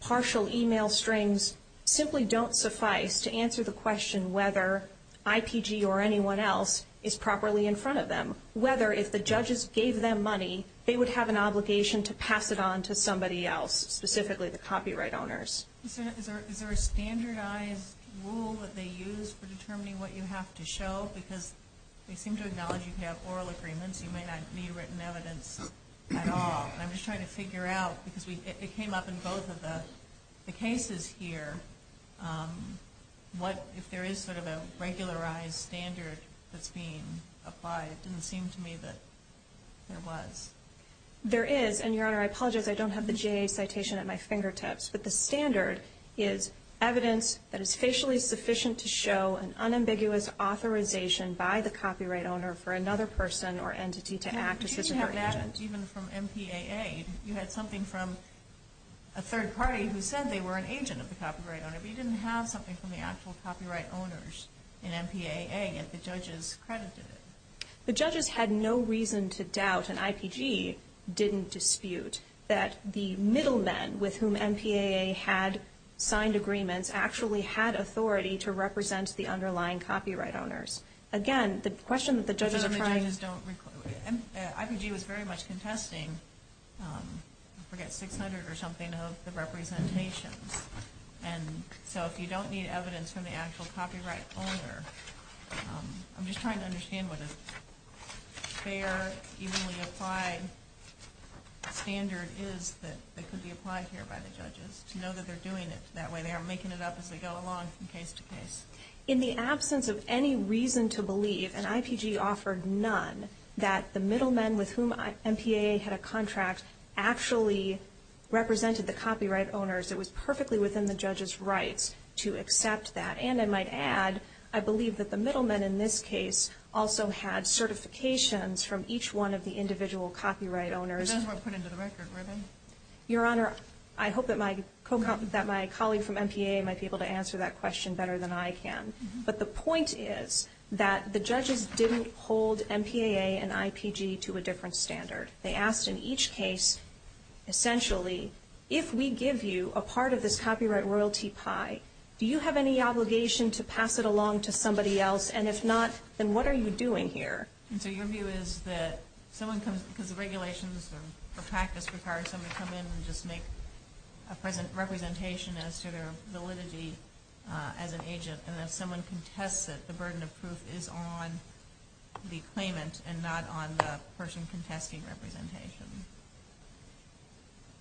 partial email strings, simply don't suffice to answer the question whether IPG or anyone else is properly in front of them. Whether if the judges gave them money, they would have an obligation to pass it on to somebody else, specifically the copyright owners. Is there a standardized rule that they use for determining what you have to show? Because they seem to acknowledge if you have oral agreements, you may not view written evidence at all. And I'm just trying to figure out, because it came up in both of us, the cases here, if there is sort of a regularized standard that's being applied. It didn't seem to me that there was. There is. And, Your Honor, I apologize. I don't have the GA citation at my fingertips. But the standard is evidence that is facially sufficient to show an unambiguous authorization by the copyright owner for another person or entity to act as a judge. You didn't have that even from MPAA. You had something from a third party who said they were an agent of the copyright owner. But you didn't have something from the actual copyright owners in MPAA if the judges credited it. The judges had no reason to doubt, and IPG didn't dispute, that the middlemen with whom MPAA had signed agreements actually had authority to represent the underlying copyright owners. Again, the question that the judges are trying to... IPG was very much contesting, I forget, 600 or something of the representation. And so if you don't need evidence from the actual copyright owner, I'm just trying to understand what a fair, easily applied standard is that could be applied here by the judges, to know that they're doing it that way. They are making it up as we go along from case to case. In the absence of any reason to believe, and IPG offered none, that the middlemen with whom MPAA had a contract actually represented the copyright owners, it was perfectly within the judge's rights to accept that. And I might add, I believe that the middlemen in this case also had certifications from each one of the individual copyright owners. But that's not put into the record, right? Your Honor, I hope that my colleague from MPAA might be able to answer that question better than I can. But the point is that the judges didn't hold MPAA and IPG to a different standard. They asked in each case, essentially, if we give you a part of this copyright royalty pie, do you have any obligation to pass it along to somebody else? And if not, then what are you doing here? And so your view is that someone comes... because the regulations or practice requires someone to come in and just make a representation as to their validity as an agent, and if someone contests it, the burden of proof is on the claimant and not on the person contesting representation.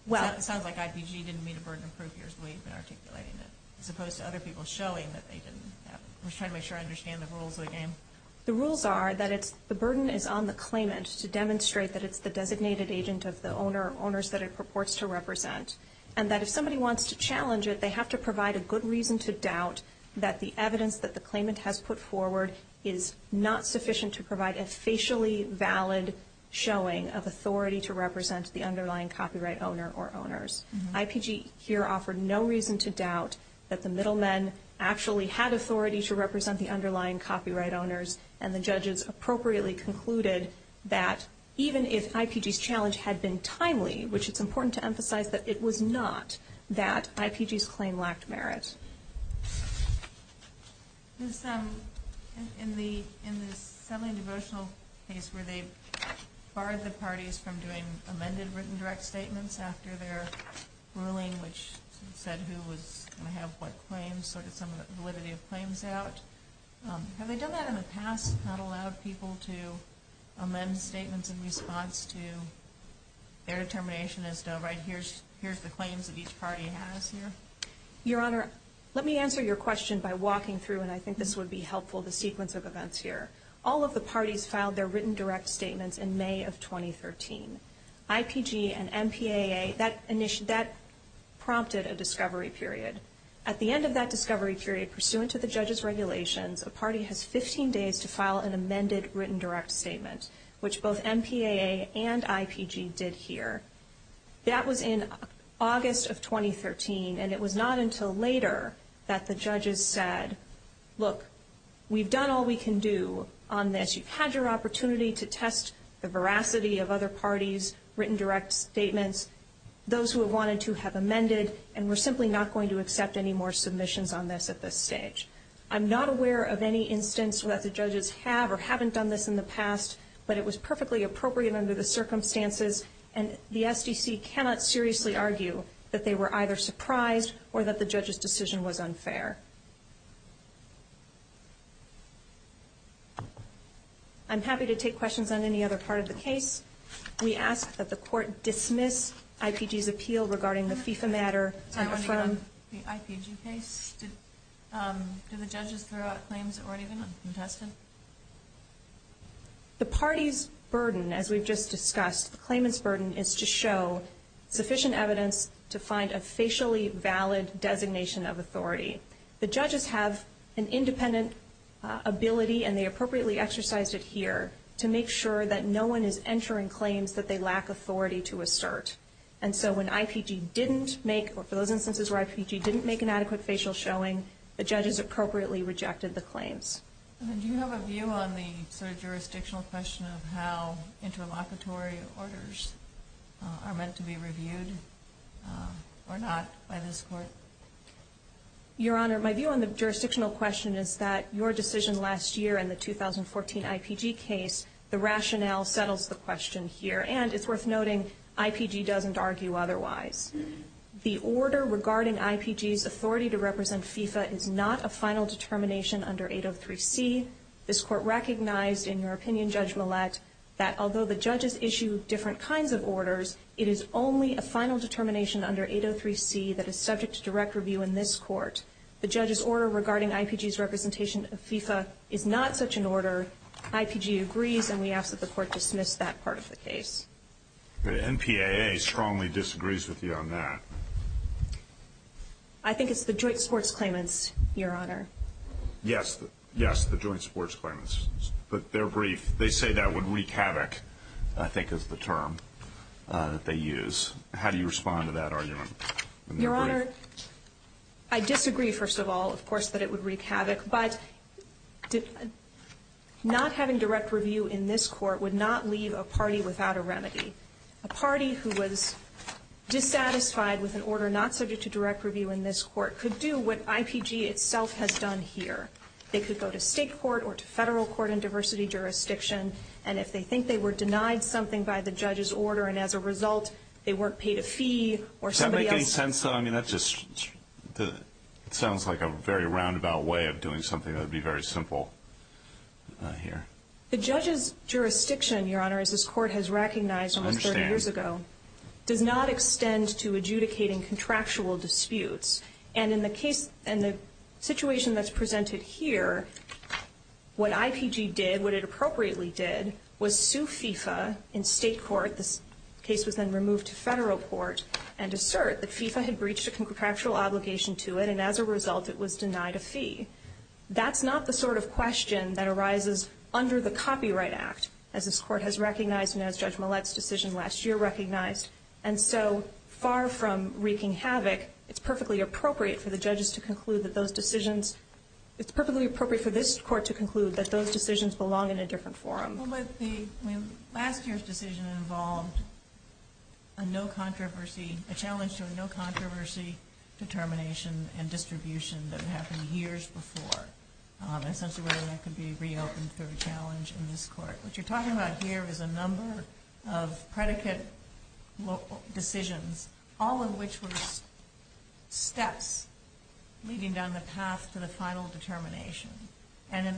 It sounds like IPG didn't meet a burden of proof. There's ways they articulated it, as opposed to other people showing that they didn't. I'm just trying to make sure I understand the rules again. The rules are that the burden is on the claimant to demonstrate that it's the designated agent of the owner or owners that it purports to represent, and that if somebody wants to challenge it, they have to provide a good reason to doubt that the evidence that the claimant has put forward is not sufficient to provide a facially valid showing of authority to represent the underlying copyright owner or owners. IPG here offered no reason to doubt that the middlemen actually had authority to represent the underlying copyright owners, and the judges appropriately concluded that even if IPG's challenge had been timely, which is important to emphasize, that it was not that IPG's claim lacked merit. In the semi-devotional case where they barred the parties from doing amended written direct statements after their ruling, which said who would have what claims, sort of some validity of claims out, have they done that in the past to not allow people to amend statements in response to their determination as though, right, here's the claims that each party has here? Your Honor, let me answer your question by walking through, and I think this would be helpful, the sequence of events here. All of the parties filed their written direct statements in May of 2013. IPG and MPAA, that prompted a discovery period. At the end of that discovery period, pursuant to the judges' regulations, a party has 15 days to file an amended written direct statement, which both MPAA and IPG did here. That was in August of 2013, and it was not until later that the judges said, look, we've done all we can do on this. You've had your opportunity to test the veracity of other parties' written direct statements, those who have wanted to have amended, and we're simply not going to accept any more submissions on this at this stage. I'm not aware of any instance where the judges have or haven't done this in the past, but it was perfectly appropriate under the circumstances, and the SEC cannot seriously argue that they were either surprised or that the judge's decision was unfair. I'm happy to take questions on any other part of the case. We ask that the court dismiss IPG's appeal regarding the FIFA matter. I have a question on the IPG case. Did the judges throw out claims or even contest it? The party's burden, as we've just discussed, the claimant's burden is to show sufficient evidence to find a facially valid designation of authority. The judges have an independent ability, and they appropriately exercised it here, to make sure that no one is entering claims that they lack authority to assert. And so when IPG didn't make, or for those instances where IPG didn't make an adequate facial showing, the judges appropriately rejected the claims. Do you have a view on the jurisdictional question of how interlocutory orders are meant to be reviewed or not? Your Honor, my view on the jurisdictional question is that your decision last year in the 2014 IPG case, the rationale settles the question here. And it's worth noting, IPG doesn't argue otherwise. The order regarding IPG's authority to represent FIFA is not a final determination under 803C. This court recognized in your opinion, Judge Millett, that although the judges issue different kinds of orders, it is only a final determination under 803C that is subject to direct review in this court. The judge's order regarding IPG's representation of FIFA is not such an order. IPG agrees, and we ask that the court dismiss that part of the case. The NPAA strongly disagrees with you on that. I think it's the joint sports claimants, Your Honor. Yes, the joint sports claimants. But they're brief. They say that would wreak havoc, I think is the term that they use. How do you respond to that argument? Your Honor, I disagree, first of all, of course, that it would wreak havoc. But not having direct review in this court would not leave a party without a remedy. A party who was dissatisfied with an order not subject to direct review in this court could do what IPG itself has done here. They could go to state court or to federal court in diversity jurisdiction, and if they think they were denied something by the judge's order, and as a result they weren't paid a fee or somebody else. Does that make any sense? I mean, that just sounds like a very roundabout way of doing something that would be very simple here. The judge's jurisdiction, Your Honor, as this court has recognized almost 30 years ago, does not extend to adjudicating contractual disputes. And in the situation that's presented here, what IPG did, what it appropriately did, was sue FIFA in state court, the case was then removed to federal court, and assert that FIFA had breached a contractual obligation to it, and as a result it was denied a fee. That's not the sort of question that arises under the Copyright Act, as this court has recognized and as Judge Millett's decision last year recognized. And so far from wreaking havoc, it's perfectly appropriate for the judges to conclude that those decisions, it's perfectly appropriate for this court to conclude that those decisions belong in a different forum. Well, let's see. Last year's decision involved a no controversy, a challenge to a no controversy determination and distribution that happened years before. I sense a way that could be reopened for a challenge in this court. What you're talking about here is a number of predicate decisions, all of which were steps leading down the path to the final determination. And in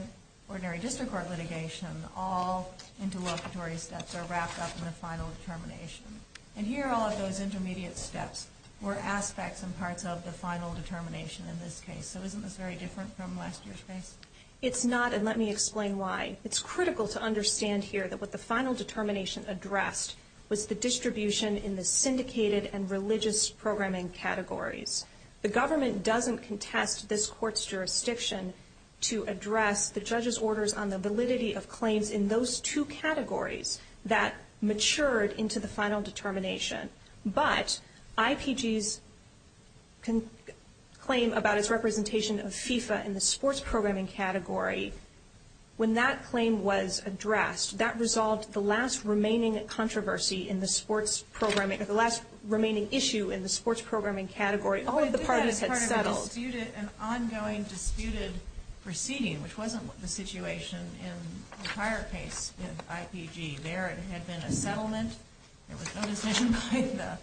ordinary district court litigation, all interlocutory steps are wrapped up in the final determination. And here, all of those intermediate steps were aspects and parts of the final determination in this case. So isn't this very different from last year's case? It's not, and let me explain why. It's critical to understand here that what the final determination addressed was the distribution in the syndicated and religious programming categories. The government doesn't contest this court's jurisdiction to address the judge's orders on the validity of claims in those two categories that matured into the final determination. But IPG's claim about its representation of FIFA in the sports programming category, when that claim was addressed, that resolved the last remaining controversy in the sports programming or the last remaining issue in the sports programming category. All of the parties had settled. An ongoing disputed proceeding, which wasn't the situation in the prior case of IPG. There, it had been a settlement. There was no decision by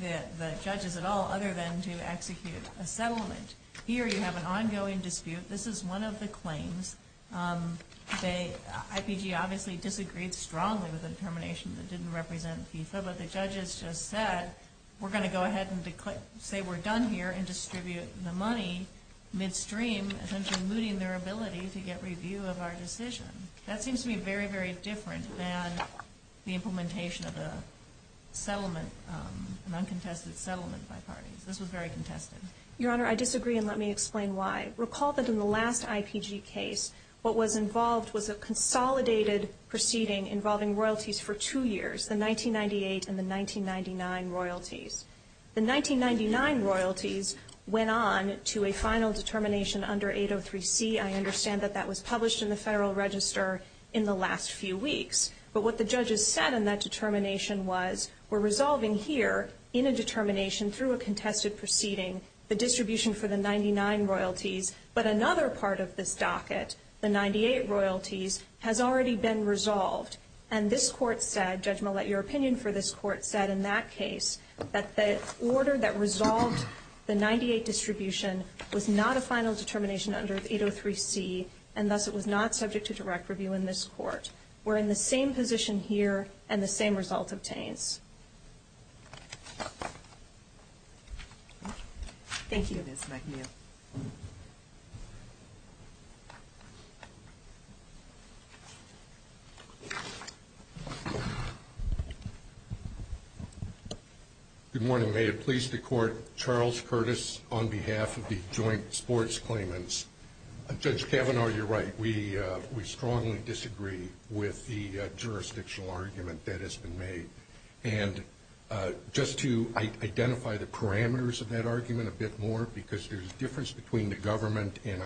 the judges at all other than to execute a settlement. Here, you have an ongoing dispute. This is one of the claims. IPG obviously disagreed strongly with the determination that didn't represent FIFA, but the judges just said, we're going to go ahead and say we're done here and distribute the money midstream, essentially mooting their ability to get review of our decision. That seems to be very, very different than the implementation of the settlement, an uncontested settlement by parties. This was very contested. Your Honor, I disagree, and let me explain why. Recall that in the last IPG case, what was involved was a consolidated proceeding involving royalties for two years, the 1998 and the 1999 royalties. The 1999 royalties went on to a final determination under 803C. I understand that that was published in the Federal Register in the last few weeks. But what the judges said in that determination was, we're resolving here in a determination through a contested proceeding, the distribution for the 1999 royalties, but another part of this docket, the 1998 royalties, has already been resolved. And this Court said, Judge Millett, your opinion for this Court said in that case, that the order that resolved the 1998 distribution was not a final determination under 803C, and thus it was not subject to direct review in this Court. We're in the same position here, and the same result obtained. Thank you. Good morning. May it please the Court, Charles Curtis on behalf of the Joint Sports Claimants. Judge Kavanaugh, you're right. We strongly disagree with the jurisdictional argument that has been made. And just to identify the parameters of that argument a bit more, because there's a difference between the government and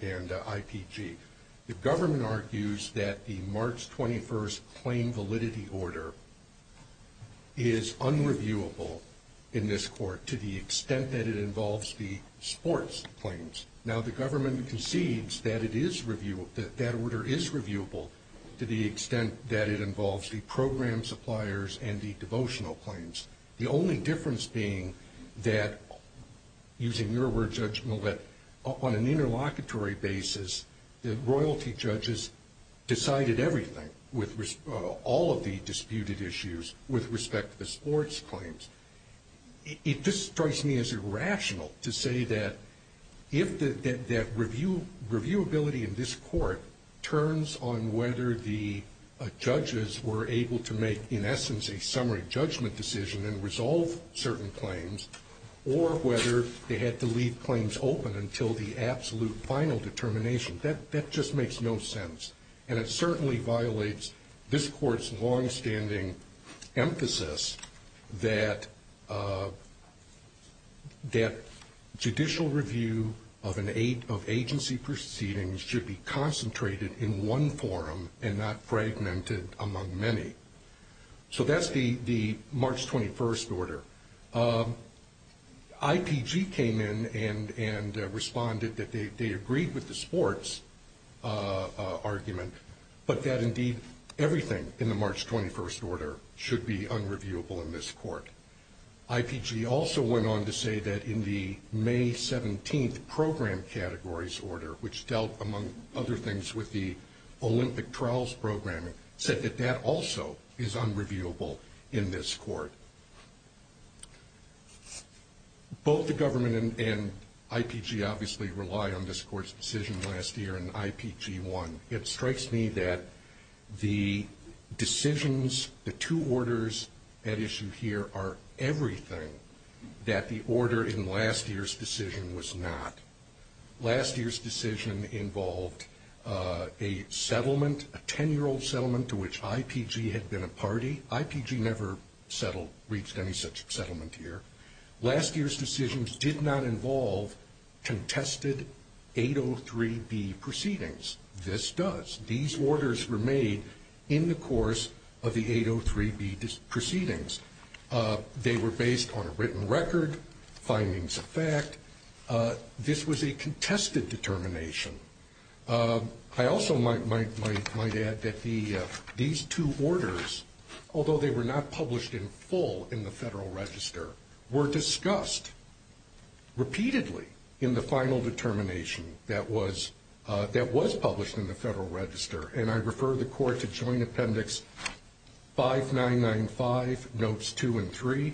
IPG. The government argues that the March 21st claim validity order is unreviewable in this Court, to the extent that it involves the sports claims. Now, the government concedes that it is reviewable, that that order is reviewable, to the extent that it involves the program suppliers and the devotional claims. The only difference being that, using your word, Judge Millett, on an interlocutory basis, the royalty judges decided everything with all of the disputed issues with respect to the sports claims. It just strikes me as irrational to say that reviewability in this Court turns on whether the judges were able to make, in essence, a summary judgment decision and resolve certain claims, or whether they had to leave claims open until the absolute final determination. That just makes no sense. And it certainly violates this Court's longstanding emphasis that judicial review of agency proceedings should be concentrated in one forum and not fragmented among many. So that's the March 21st order. IPG came in and responded that they agreed with the sports argument, but that, indeed, everything in the March 21st order should be unreviewable in this Court. IPG also went on to say that in the May 17th program categories order, which dealt, among other things, with the Olympic trials programming, said that that also is unreviewable in this Court. Both the government and IPG obviously rely on this Court's decision last year in IPG-1. It strikes me that the decisions, the two orders at issue here, are everything that the order in last year's decision was not. Last year's decision involved a settlement, a 10-year-old settlement to which IPG had been a party. IPG never settled, reached any such settlement here. Last year's decisions did not involve contested 803B proceedings. This does. These orders were made in the course of the 803B proceedings. They were based on a written record, findings of fact. This was a contested determination. I also might add that these two orders, although they were not published in full in the Federal Register, were discussed repeatedly in the final determination that was published in the Federal Register. And I refer the Court to Joint Appendix 5995, Notes 2 and 3,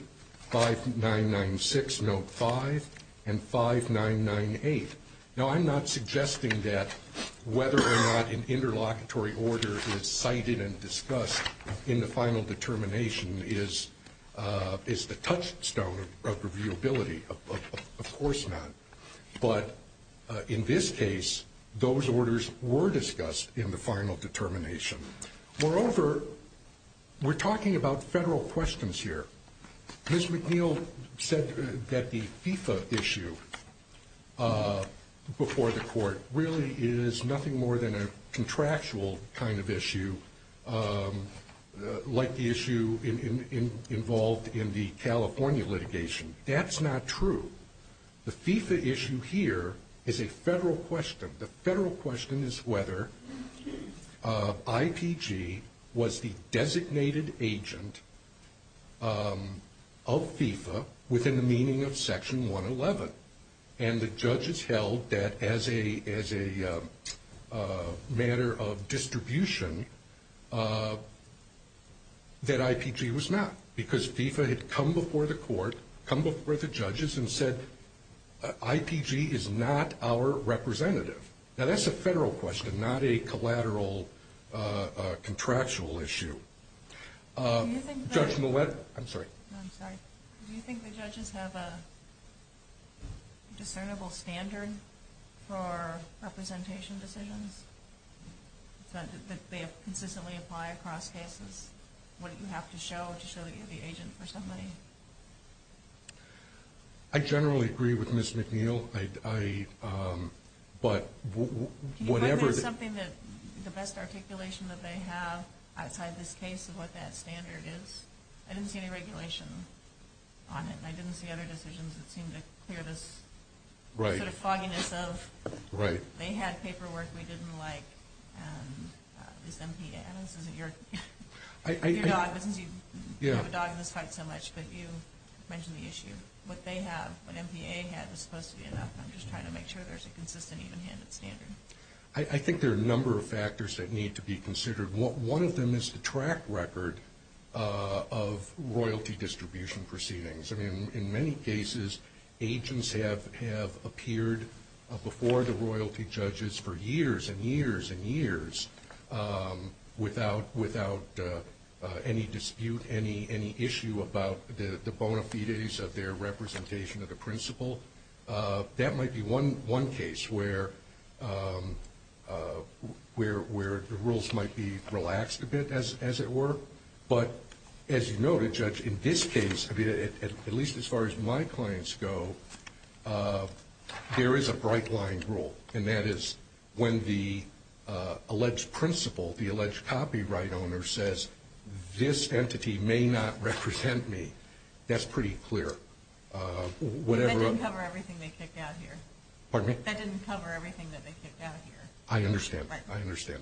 5996, Note 5, and 5998. Now, I'm not suggesting that whether or not an interlocutory order is cited and discussed in the final determination is the touchstone of reviewability. Of course not. But in this case, those orders were discussed in the final determination. Moreover, we're talking about federal questions here. Ms. McNeil said that the FIFA issue before the Court really is nothing more than a contractual kind of issue, like the issue involved in the California litigation. That's not true. The FIFA issue here is a federal question. The federal question is whether IPG was the designated agent of FIFA within the meaning of Section 111. And the judges held that as a matter of distribution that IPG was not, because FIFA had come before the Court, come before the judges, and said IPG is not our representative. Now, that's a federal question, not a collateral contractual issue. Judge Millett? I'm sorry. I'm sorry. Do you think the judges have a discernible standard for representation decisions, that they consistently apply across cases? Wouldn't you have to show it to show that you're the agent for somebody? I generally agree with Ms. McNeil. But whatever... Do you find that something that the best articulation that they have outside this case is what that standard is? I didn't see any regulation on it, and I didn't see other decisions that seemed to clear this sort of fogginess of... Right. I didn't see anything like this MPA has in New York. Your dog doesn't need... Yeah. Your dog doesn't fight so much, but you mentioned the issue. What they have, what MPA has, is supposed to be enough. I'm just trying to make sure there's a consistent, even-handed standard. I think there are a number of factors that need to be considered. One of them is the track record of royalty distribution proceedings. In many cases, agents have appeared before the royalty judges for years and years and years without any dispute, any issue about the bona fides of their representation of the principal. That might be one case where the rules might be relaxed a bit, as it were. But as you noted, Judge, in this case, at least as far as my clients go, there is a bright-line rule, and that is when the alleged principal, the alleged copyright owner, says, this entity may not represent me, that's pretty clear. That didn't cover everything they kicked out here. Pardon me? That didn't cover everything that they kicked out here. I understand. Right. I understand.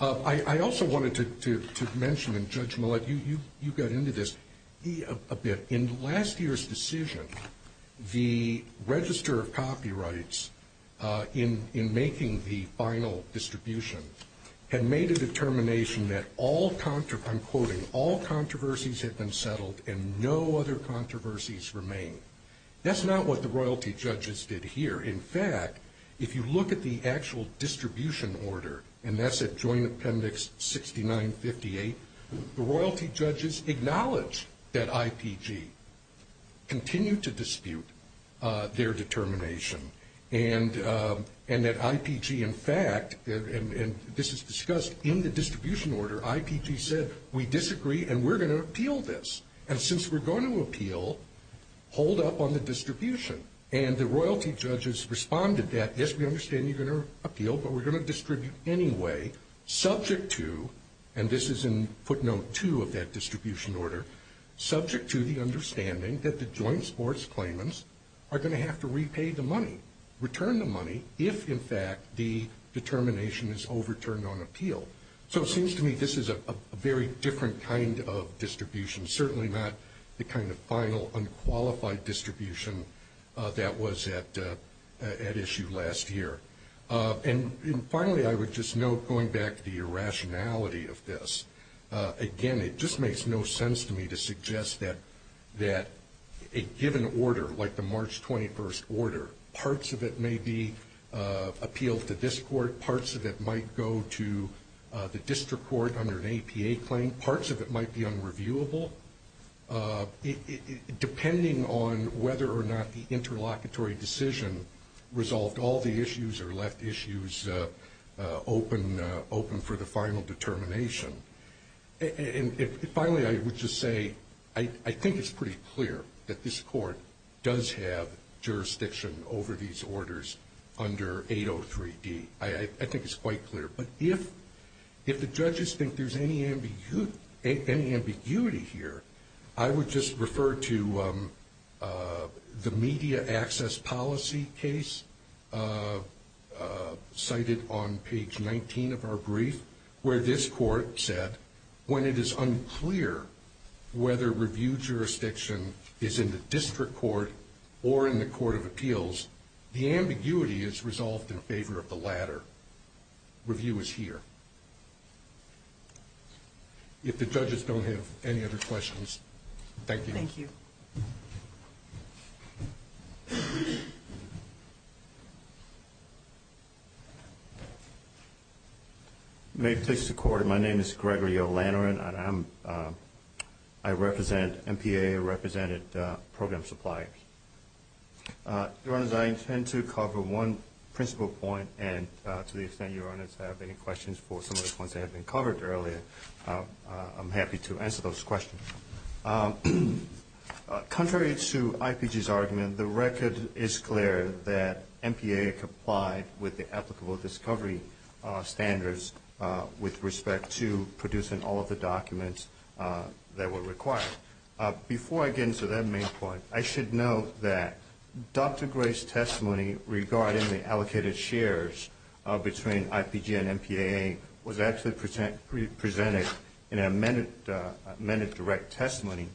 I also wanted to mention, and Judge Millett, you got into this a bit. In last year's decision, the Register of Copyrights, in making the final distribution, had made a determination that all, I'm quoting, all controversies had been settled and no other controversies remained. That's not what the royalty judges did here. In fact, if you look at the actual distribution order, and that's at Joint Appendix 6958, the royalty judges acknowledged that IPG continued to dispute their determination, and that IPG, in fact, and this is discussed in the distribution order, IPG said, we disagree and we're going to appeal this. And since we're going to appeal, hold up on the distribution. And the royalty judges responded that, yes, we understand you're going to appeal, but we're going to distribute anyway, subject to, and this is in footnote two of that distribution order, subject to the understanding that the joint sports claimants are going to have to repay the money, return the money, if, in fact, the determination is overturned on appeal. So it seems to me this is a very different kind of distribution, certainly not the kind of final unqualified distribution that was at issue last year. And finally, I would just note, going back to your rationality of this, again, it just makes no sense to me to suggest that a given order, like the March 21st order, parts of it may be appealed to this court, parts of it might go to the district court under an APA claim, some parts of it might be unreviewable, depending on whether or not the interlocutory decision resolved all the issues or left issues open for the final determination. And finally, I would just say, I think it's pretty clear that this court does have jurisdiction over these orders under 803D. I think it's quite clear. But if the judges think there's any ambiguity here, I would just refer to the media access policy case, cited on page 19 of our brief, where this court said, when it is unclear whether review jurisdiction is in the district court or in the court of appeals, the ambiguity is resolved in favor of the latter. Review is here. If the judges don't have any other questions, thank you. Thank you. May it please the court, my name is Gregory O'Lantern. I represent MPA, I represented Program Supply. Thank you. Your Honors, I intend to cover one principle point, and to the extent Your Honors have any questions for some of the points that have been covered earlier, I'm happy to answer those questions. Contrary to IPG's argument, the record is clear that MPA complied with the applicable discovery standards with respect to producing all of the documents that were required. Before I get into that main point, I should note that Dr. Gray's testimony regarding the allocated shares between IPG and MPA was actually presented in an amended direct testimony.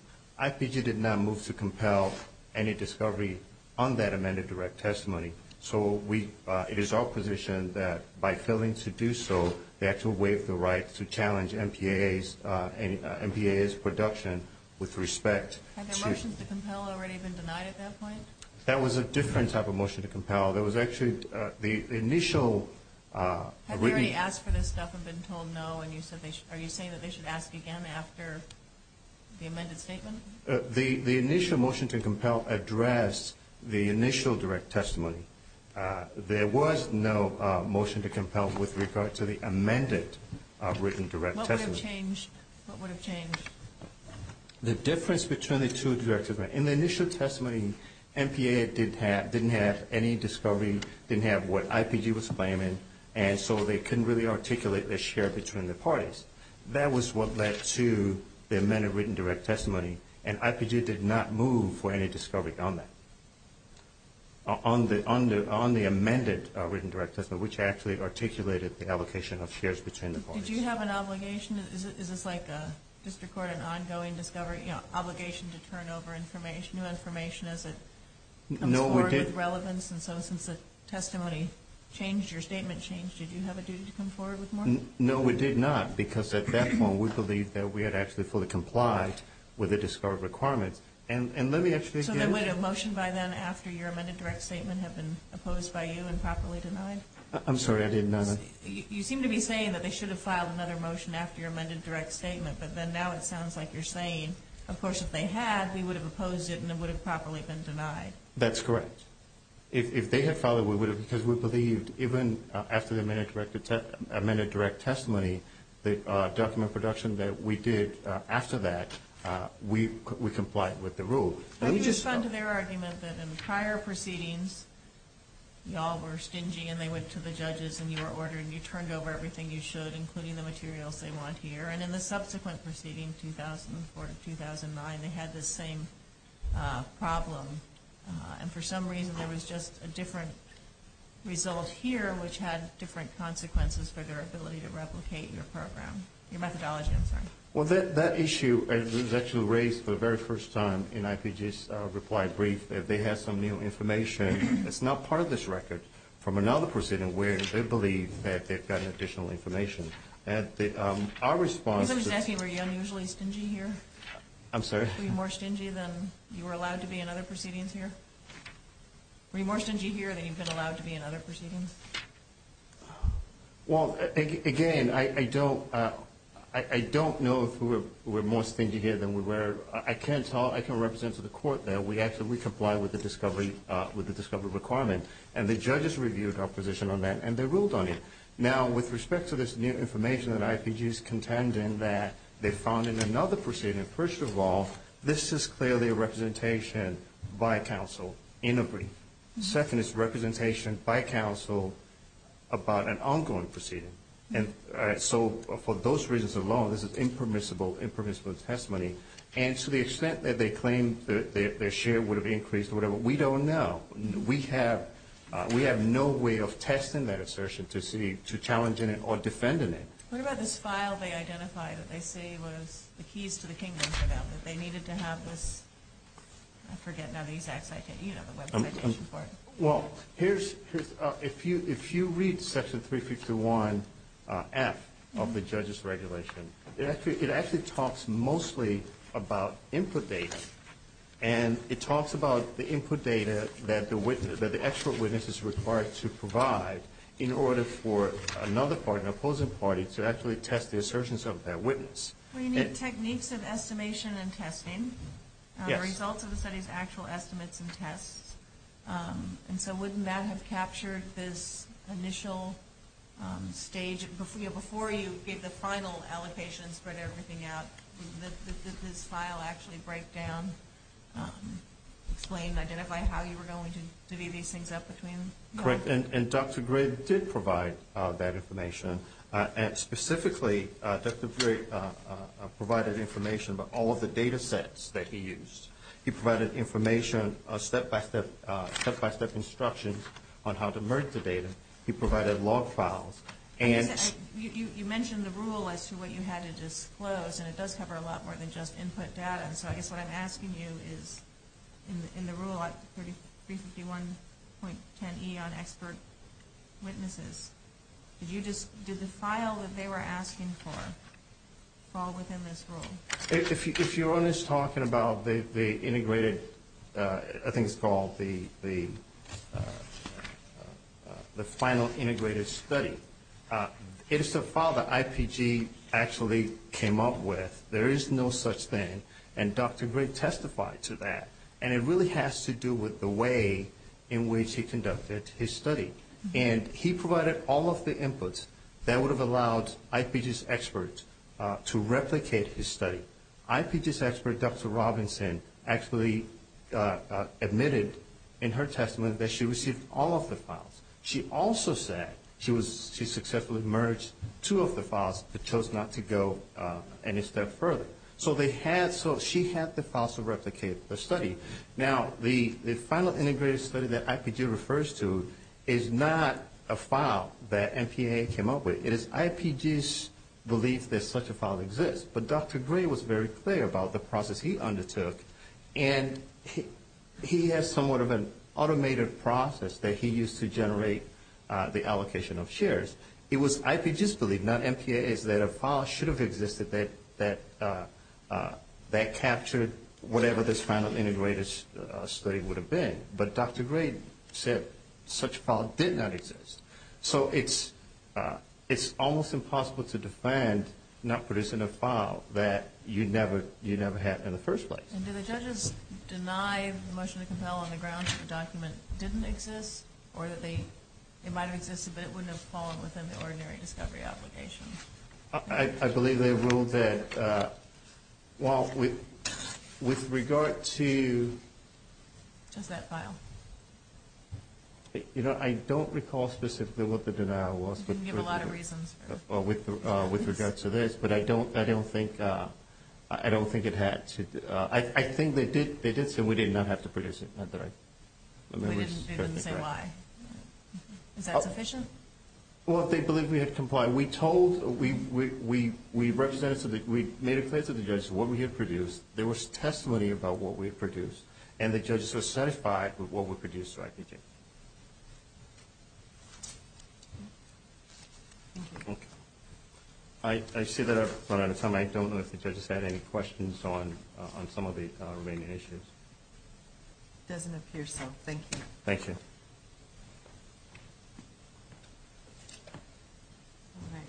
IPG did not move to compel any discovery on that amended direct testimony. It is our position that by failing to do so, they have to waive the right to challenge MPA's production with respect to... Had the motion to compel already been denied at that point? That was a different type of motion to compel. There was actually the initial... Have you already asked for this stuff and been told no, and are you saying that they should ask again after the amended statement? The initial motion to compel addressed the initial direct testimony. There was no motion to compel with regard to the amended written direct testimony. What would have changed? The difference between the two direct... In the initial testimony, MPA didn't have any discovery, didn't have what IPG was claiming, and so they couldn't really articulate their share between the parties. That was what led to the amended written direct testimony, and IPG did not move for any discovery on that, on the amended written direct testimony, which actually articulated the allocation of shares between the parties. Did you have an obligation? Is this like a district court, an ongoing discovery, an obligation to turn over new information as it comes forward with relevance? No, we did... And so since the testimony changed, your statement changed, did you have a duty to come forward with more? No, we did not, because at that point, we believed that we had actually fully complied with the discovery requirement. And let me ask you this... So would a motion by then after your amended direct statement have been opposed by you and properly denied? I'm sorry, I didn't know that. You seem to be saying that they should have filed another motion after your amended direct statement, but then now it sounds like you're saying, of course, if they had, we would have opposed it and it would have properly been denied. That's correct. If they had filed it, we would have, because we believed, even after the amended direct testimony, the document production that we did after that, we complied with the rule. That's just under their argument that in prior proceedings, y'all were stingy and they went to the judges and you were ordered and you turned over everything you should, including the materials they want here. And in the subsequent proceedings, 2004 to 2009, they had this same problem. And for some reason, it was just a different result here, which had different consequences for their ability to replicate your program. Your methodology, I'm sorry. Well, that issue that was actually raised for the very first time in IPJ's reply brief, that they have some new information that's not part of this record from another proceeding where they believe that they've gotten additional information. Our response... Isn't that where you're unusually stingy here? I'm sorry? Were you more stingy than you were allowed to be in other proceedings here? Were you more stingy here than you've been allowed to be in other proceedings? Well, again, I don't... I don't know if we're more stingy here than we were. I can't tell... I can't represent to the court there. We actually complied with the discovery requirement. And the judges reviewed our position on that, and they ruled on it. Now, with respect to this new information that IPJ's contending that they found in another proceeding, first of all, this is clearly a representation by counsel in a brief. Second, it's a representation by counsel about an ongoing proceeding. And so for those reasons alone, this is impermissible, impermissible testimony. And to the extent that they claim that their share would have increased or whatever, we don't know. We have no way of testing that assertion to challenging it or defending it. What about this file they identified that they say was the keys to the kingdom, that they needed to have this... I forget, none of these acts I can read on the Web site. Well, here's... If you read Section 351F of the judges' regulation, it actually talks mostly about input data. And it talks about the input data that the expert witness is required to provide in order for another party, an opposing party, to actually test the assertions of their witness. You mean techniques of estimation and testing? Yes. Results of the study's actual estimates and tests. And so wouldn't that have captured this initial stage? Before you gave the final allocation and spread everything out, did this file actually break down, explain, identify how you were going to divvy these things up between... Correct. And Dr. Grigg did provide that information. And specifically, Dr. Grigg provided information about all of the data sets that he used. He provided information, step-by-step instructions on how to merge the data. He provided log files. You mentioned the rule as to what you had to disclose, and it does cover a lot more than just input data. So what I'm asking you is, in the rule at 351.10E on expert witnesses, did the file that they were asking for fall within this rule? If you're only talking about the integrated, I think it's called the final integrated study, if the file that IPG actually came up with, there is no such thing, and Dr. Grigg testified to that. And it really has to do with the way in which he conducted his study. And he provided all of the inputs that would have allowed IPG's experts to replicate his study. IPG's expert, Dr. Robinson, actually admitted in her testimony that she received all of the files. She also said she successfully merged two of the files but chose not to go any step further. So she had the files to replicate the study. Now, the final integrated study that IPG refers to is not a file that MPAA came up with. It is IPG's belief that such a file exists. But Dr. Grigg was very clear about the process he undertook, and he has somewhat of an automated process that he used to generate the allocation of shares. It was IPG's belief, not MPAA's, that a file should have existed that captured whatever this final integrated study would have been. But Dr. Grigg said such a file did not exist. So it's almost impossible to define not producing a file that you never had in the first place. And did the judges deny the motion to compel on the grounds that the document didn't exist, or that it might have existed but it wouldn't have fallen within the ordinary discovery application? I believe they ruled that, well, with regard to... Just that file. You know, I don't recall specifically what the denial was. You didn't give a lot of reasons. Well, with regard to this, but I don't think it had to... I think they did, and we did not have to produce it, am I right? They didn't say why. Is that sufficient? Well, they believed we had complied. We made a case with the judges what we had produced. There was testimony about what we had produced. And the judges were satisfied with what we produced. I see that I've run out of time. I don't know if the judges had any questions on some of the remaining issues. It doesn't appear so. Thank you. Thank you. All right.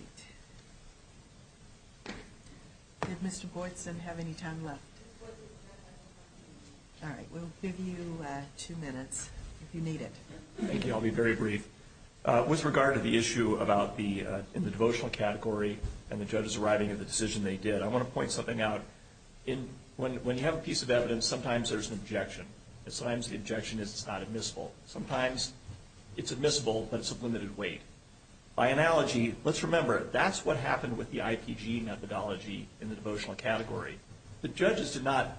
Did Mr. Boyce then have any time left? All right. We'll give you two minutes if you need it. Thank you. I'll be very brief. With regard to the issue about the devotional category and the judges arriving at the decision they did, I want to point something out. When you have a piece of evidence, sometimes there's an objection. Sometimes the objection is not admissible. Sometimes it's admissible, but it's of limited weight. By analogy, let's remember, that's what happened with the IPG methodology in the devotional category. The judges did not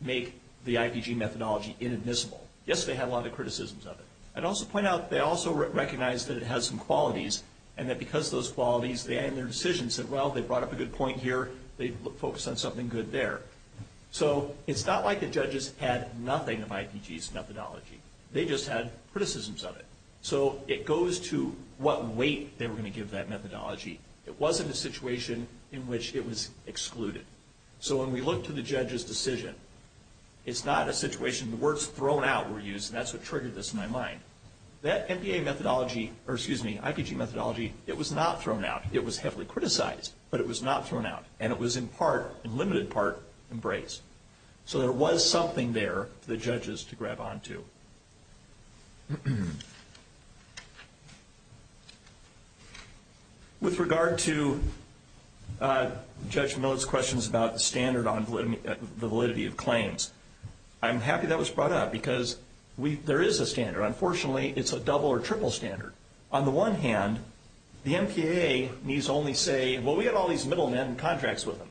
make the IPG methodology inadmissible. Yes, they had a lot of criticisms of it. I'd also point out they also recognized that it has some qualities, and that because of those qualities, they, in their decision, said, well, they brought up a good point here. They focused on something good there. So it's not like the judges had nothing of IPG's methodology. They just had criticisms of it. So it goes to what weight they were going to give that methodology. It wasn't a situation in which it was excluded. So when we look to the judge's decision, it's not a situation where the words thrown out were used, and that's what triggered this in my mind. That IPG methodology, it was not thrown out. It was heavily criticized, but it was not thrown out, and it was in part, in limited part, embraced. So there was something there for the judges to grab on to. With regard to Judge Miller's questions about the standard on validity of claims, I'm happy that was brought up because there is a standard. Unfortunately, it's a double or triple standard. On the one hand, the MPAA needs to only say, well, we have all these middlemen in contracts with them.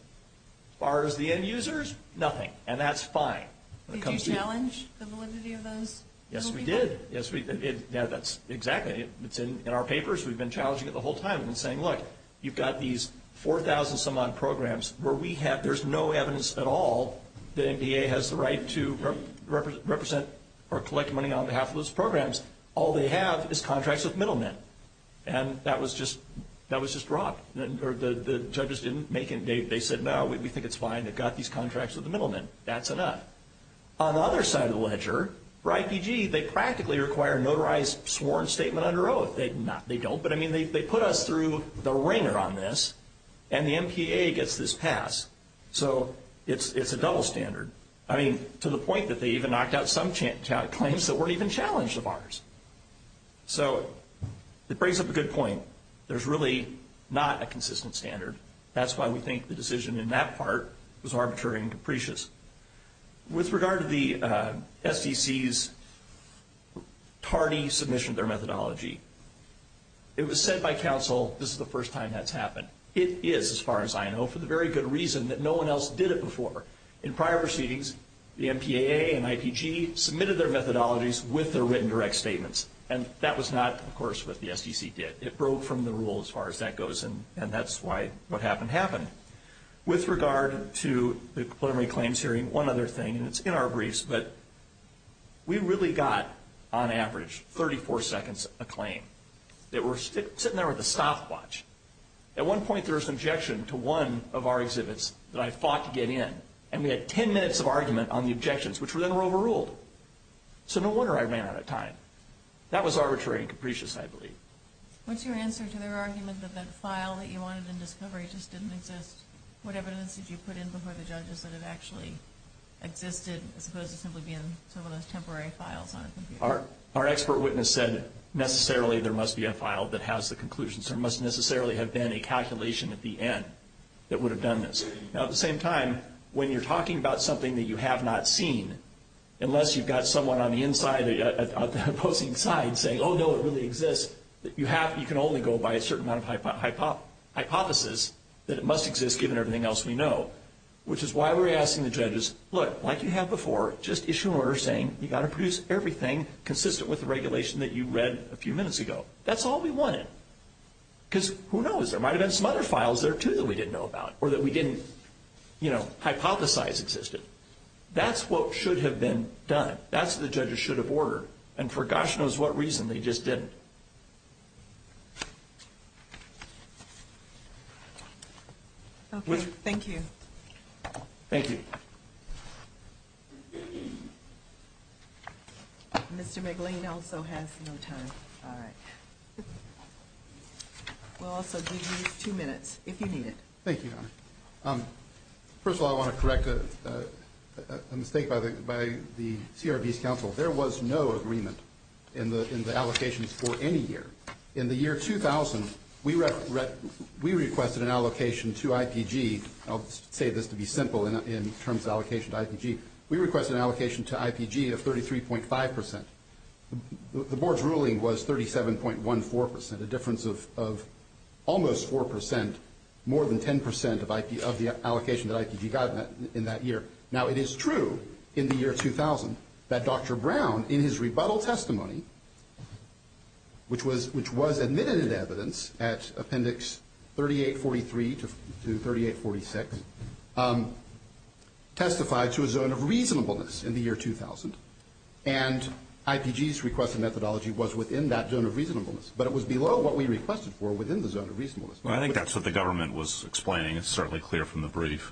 As far as the end users, nothing, and that's fine. Did you challenge the validity of those? Yes, we did. Yes, we did. Yeah, that's exactly it. It's in our papers. We've been challenging it the whole time and saying, look, you've got these 4,000-some-odd programs where there's no evidence at all that MPAA has the right to represent or collect money on behalf of those programs. All they have is contracts with middlemen, and that was just brought up. The judges didn't make it. They said, no, we think it's fine. They've got these contracts with the middlemen. That's enough. On the other side of the ledger, for IPG, they practically require a notarized sworn statement under oath. They don't, but, I mean, they put us through the ringer on this, and the MPAA gets this passed. So it's a double standard, I mean, to the point that they even knocked out some claims that weren't even challenged of ours. So it brings up a good point. There's really not a consistent standard. That's why we think the decision in that part was arbitrary and capricious. With regard to the SEC's tardy submission of their methodology, it was said by counsel, this is the first time that's happened. It is, as far as I know, for the very good reason that no one else did it before. In prior proceedings, the MPAA and IPG submitted their methodologies with their written direct statements, and that was not, of course, what the SEC did. It broke from the rule as far as that goes, and that's why what happened happened. With regard to the preliminary claims hearing, one other thing, and it's in our briefs, but we really got, on average, 34 seconds a claim. It was sitting there with a stopwatch. At one point, there was an objection to one of our exhibits that I fought to get in, and we had 10 minutes of argument on the objections, which were then overruled. So no wonder I ran out of time. That was arbitrary and capricious, I believe. What's your answer to their argument that that file that you wanted in discovery just didn't exist? What evidence did you put in before the judges that it actually existed, as opposed to simply being some of those temporary files on a computer? Our expert witness said, necessarily, there must be a file that has the conclusions. There must necessarily have been a calculation at the end that would have done this. Now, at the same time, when you're talking about something that you have not seen, unless you've got someone on the opposing side saying, oh, no, it really exists, you can only go by a certain amount of hypothesis that it must exist, given everything else we know, which is why we're asking the judges, look, like you have before, just issue an order saying you've got to produce everything consistent with the regulation that you read a few minutes ago. That's all we wanted, because who knows? There might have been some other files there, too, that we didn't know about or that we didn't hypothesize existed. That's what should have been done. That's what the judges should have ordered, and for gosh knows what reason, they just didn't. Okay, thank you. Thank you. Mr. McGlean also has no time. All right. We'll also give you two minutes, if you need it. Thank you. First of all, I want to correct a mistake by the CRB's counsel. There was no agreement in the allocations for any year. In the year 2000, we requested an allocation to IPG. I'll say this to be simple in terms of allocation to IPG. We requested an allocation to IPG of 33.5%. The board's ruling was 37.14%, a difference of almost 4%, more than 10% of the allocation that IPG got in that year. Now, it is true in the year 2000 that Dr. Brown, in his rebuttal testimony, which was admitted in evidence at Appendix 3843 to 3846, testified to a zone of reasonableness in the year 2000, and IPG's request of methodology was within that zone of reasonableness, but it was below what we requested for within the zone of reasonableness. Well, I think that's what the government was explaining. It's certainly clear from the brief.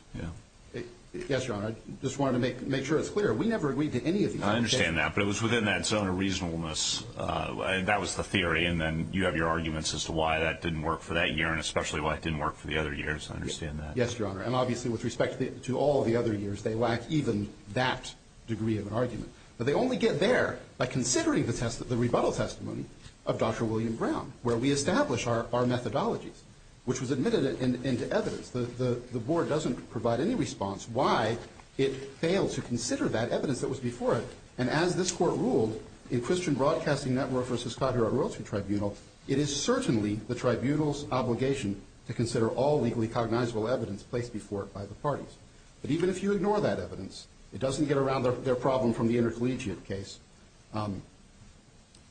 Yes, Your Honor. I just wanted to make sure it's clear. We never agreed to any of these. I understand that, but it was within that zone of reasonableness. That was the theory, and then you have your arguments as to why that didn't work for that year and especially why it didn't work for the other years. I understand that. Yes, Your Honor, and obviously with respect to all the other years, they lack even that degree of argument. But they only get there by considering the rebuttal testimony of Dr. William Brown, where we establish our methodology, which was admitted into evidence. The Board doesn't provide any response why it failed to consider that evidence that was before it, and as this Court ruled in Christian Broadcasting Network v. Clavier at Roscoe Tribunal, it is certainly the Tribunal's obligation to consider all legally cognizable evidence placed before it by the parties. But even if you ignore that evidence, it doesn't get around their problem from the intercollegiate case.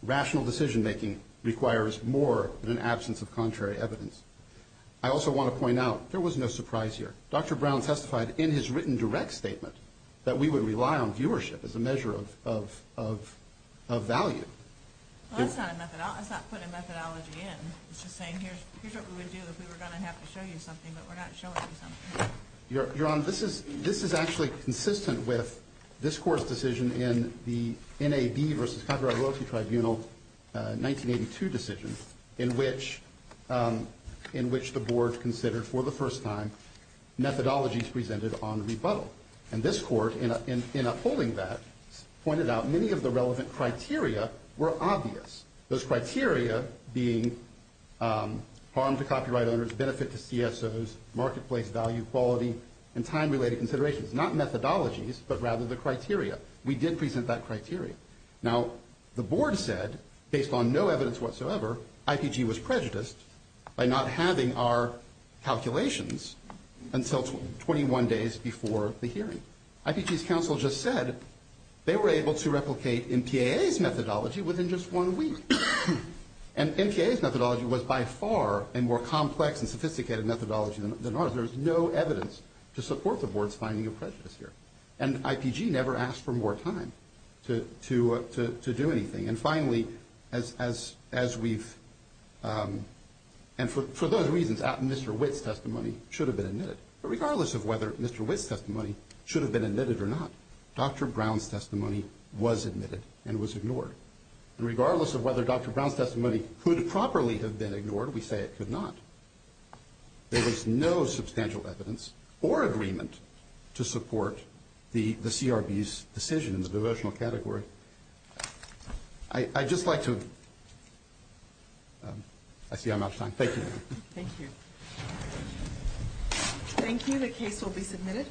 Rational decision-making requires more than an absence of contrary evidence. I also want to point out there was no surprise here. Dr. Brown testified in his written direct statement that we would rely on viewership as a measure of value. Well, it's not a methodology. It's not putting methodology in. It's just saying here's what we would do if we were going to have to show you something, but we're not showing you something. Your Honor, this is actually consistent with this Court's decision in the NAB v. Clavier at Roscoe Tribunal 1982 decision, in which the Board considered for the first time methodologies presented on rebuttal. And this Court, in upholding that, pointed out many of the relevant criteria were obvious, those criteria being harm to copyright owners, benefit to CSOs, marketplace value, quality, and time-related considerations, not methodologies, but rather the criteria. We did present that criteria. Now, the Board said, based on no evidence whatsoever, IPG was prejudiced by not having our calculations until 21 days before the hearing. IPG's counsel just said they were able to replicate NPAA's methodology within just one week. And NPAA's methodology was by far a more complex and sophisticated methodology than ours. There's no evidence to support the Board's finding of prejudice here. And IPG never asked for more time to do anything. And finally, as we've – and for those reasons, Mr. Witt's testimony should have been admitted. But regardless of whether Mr. Witt's testimony should have been admitted or not, Dr. Brown's testimony was admitted and was ignored. And regardless of whether Dr. Brown's testimony could properly have been ignored, we say it could not. There is no substantial evidence or agreement to support the CRB's decision in the devotional category. I'd just like to – I see I'm out of time. Thank you. Thank you. Thank you. The case will be submitted.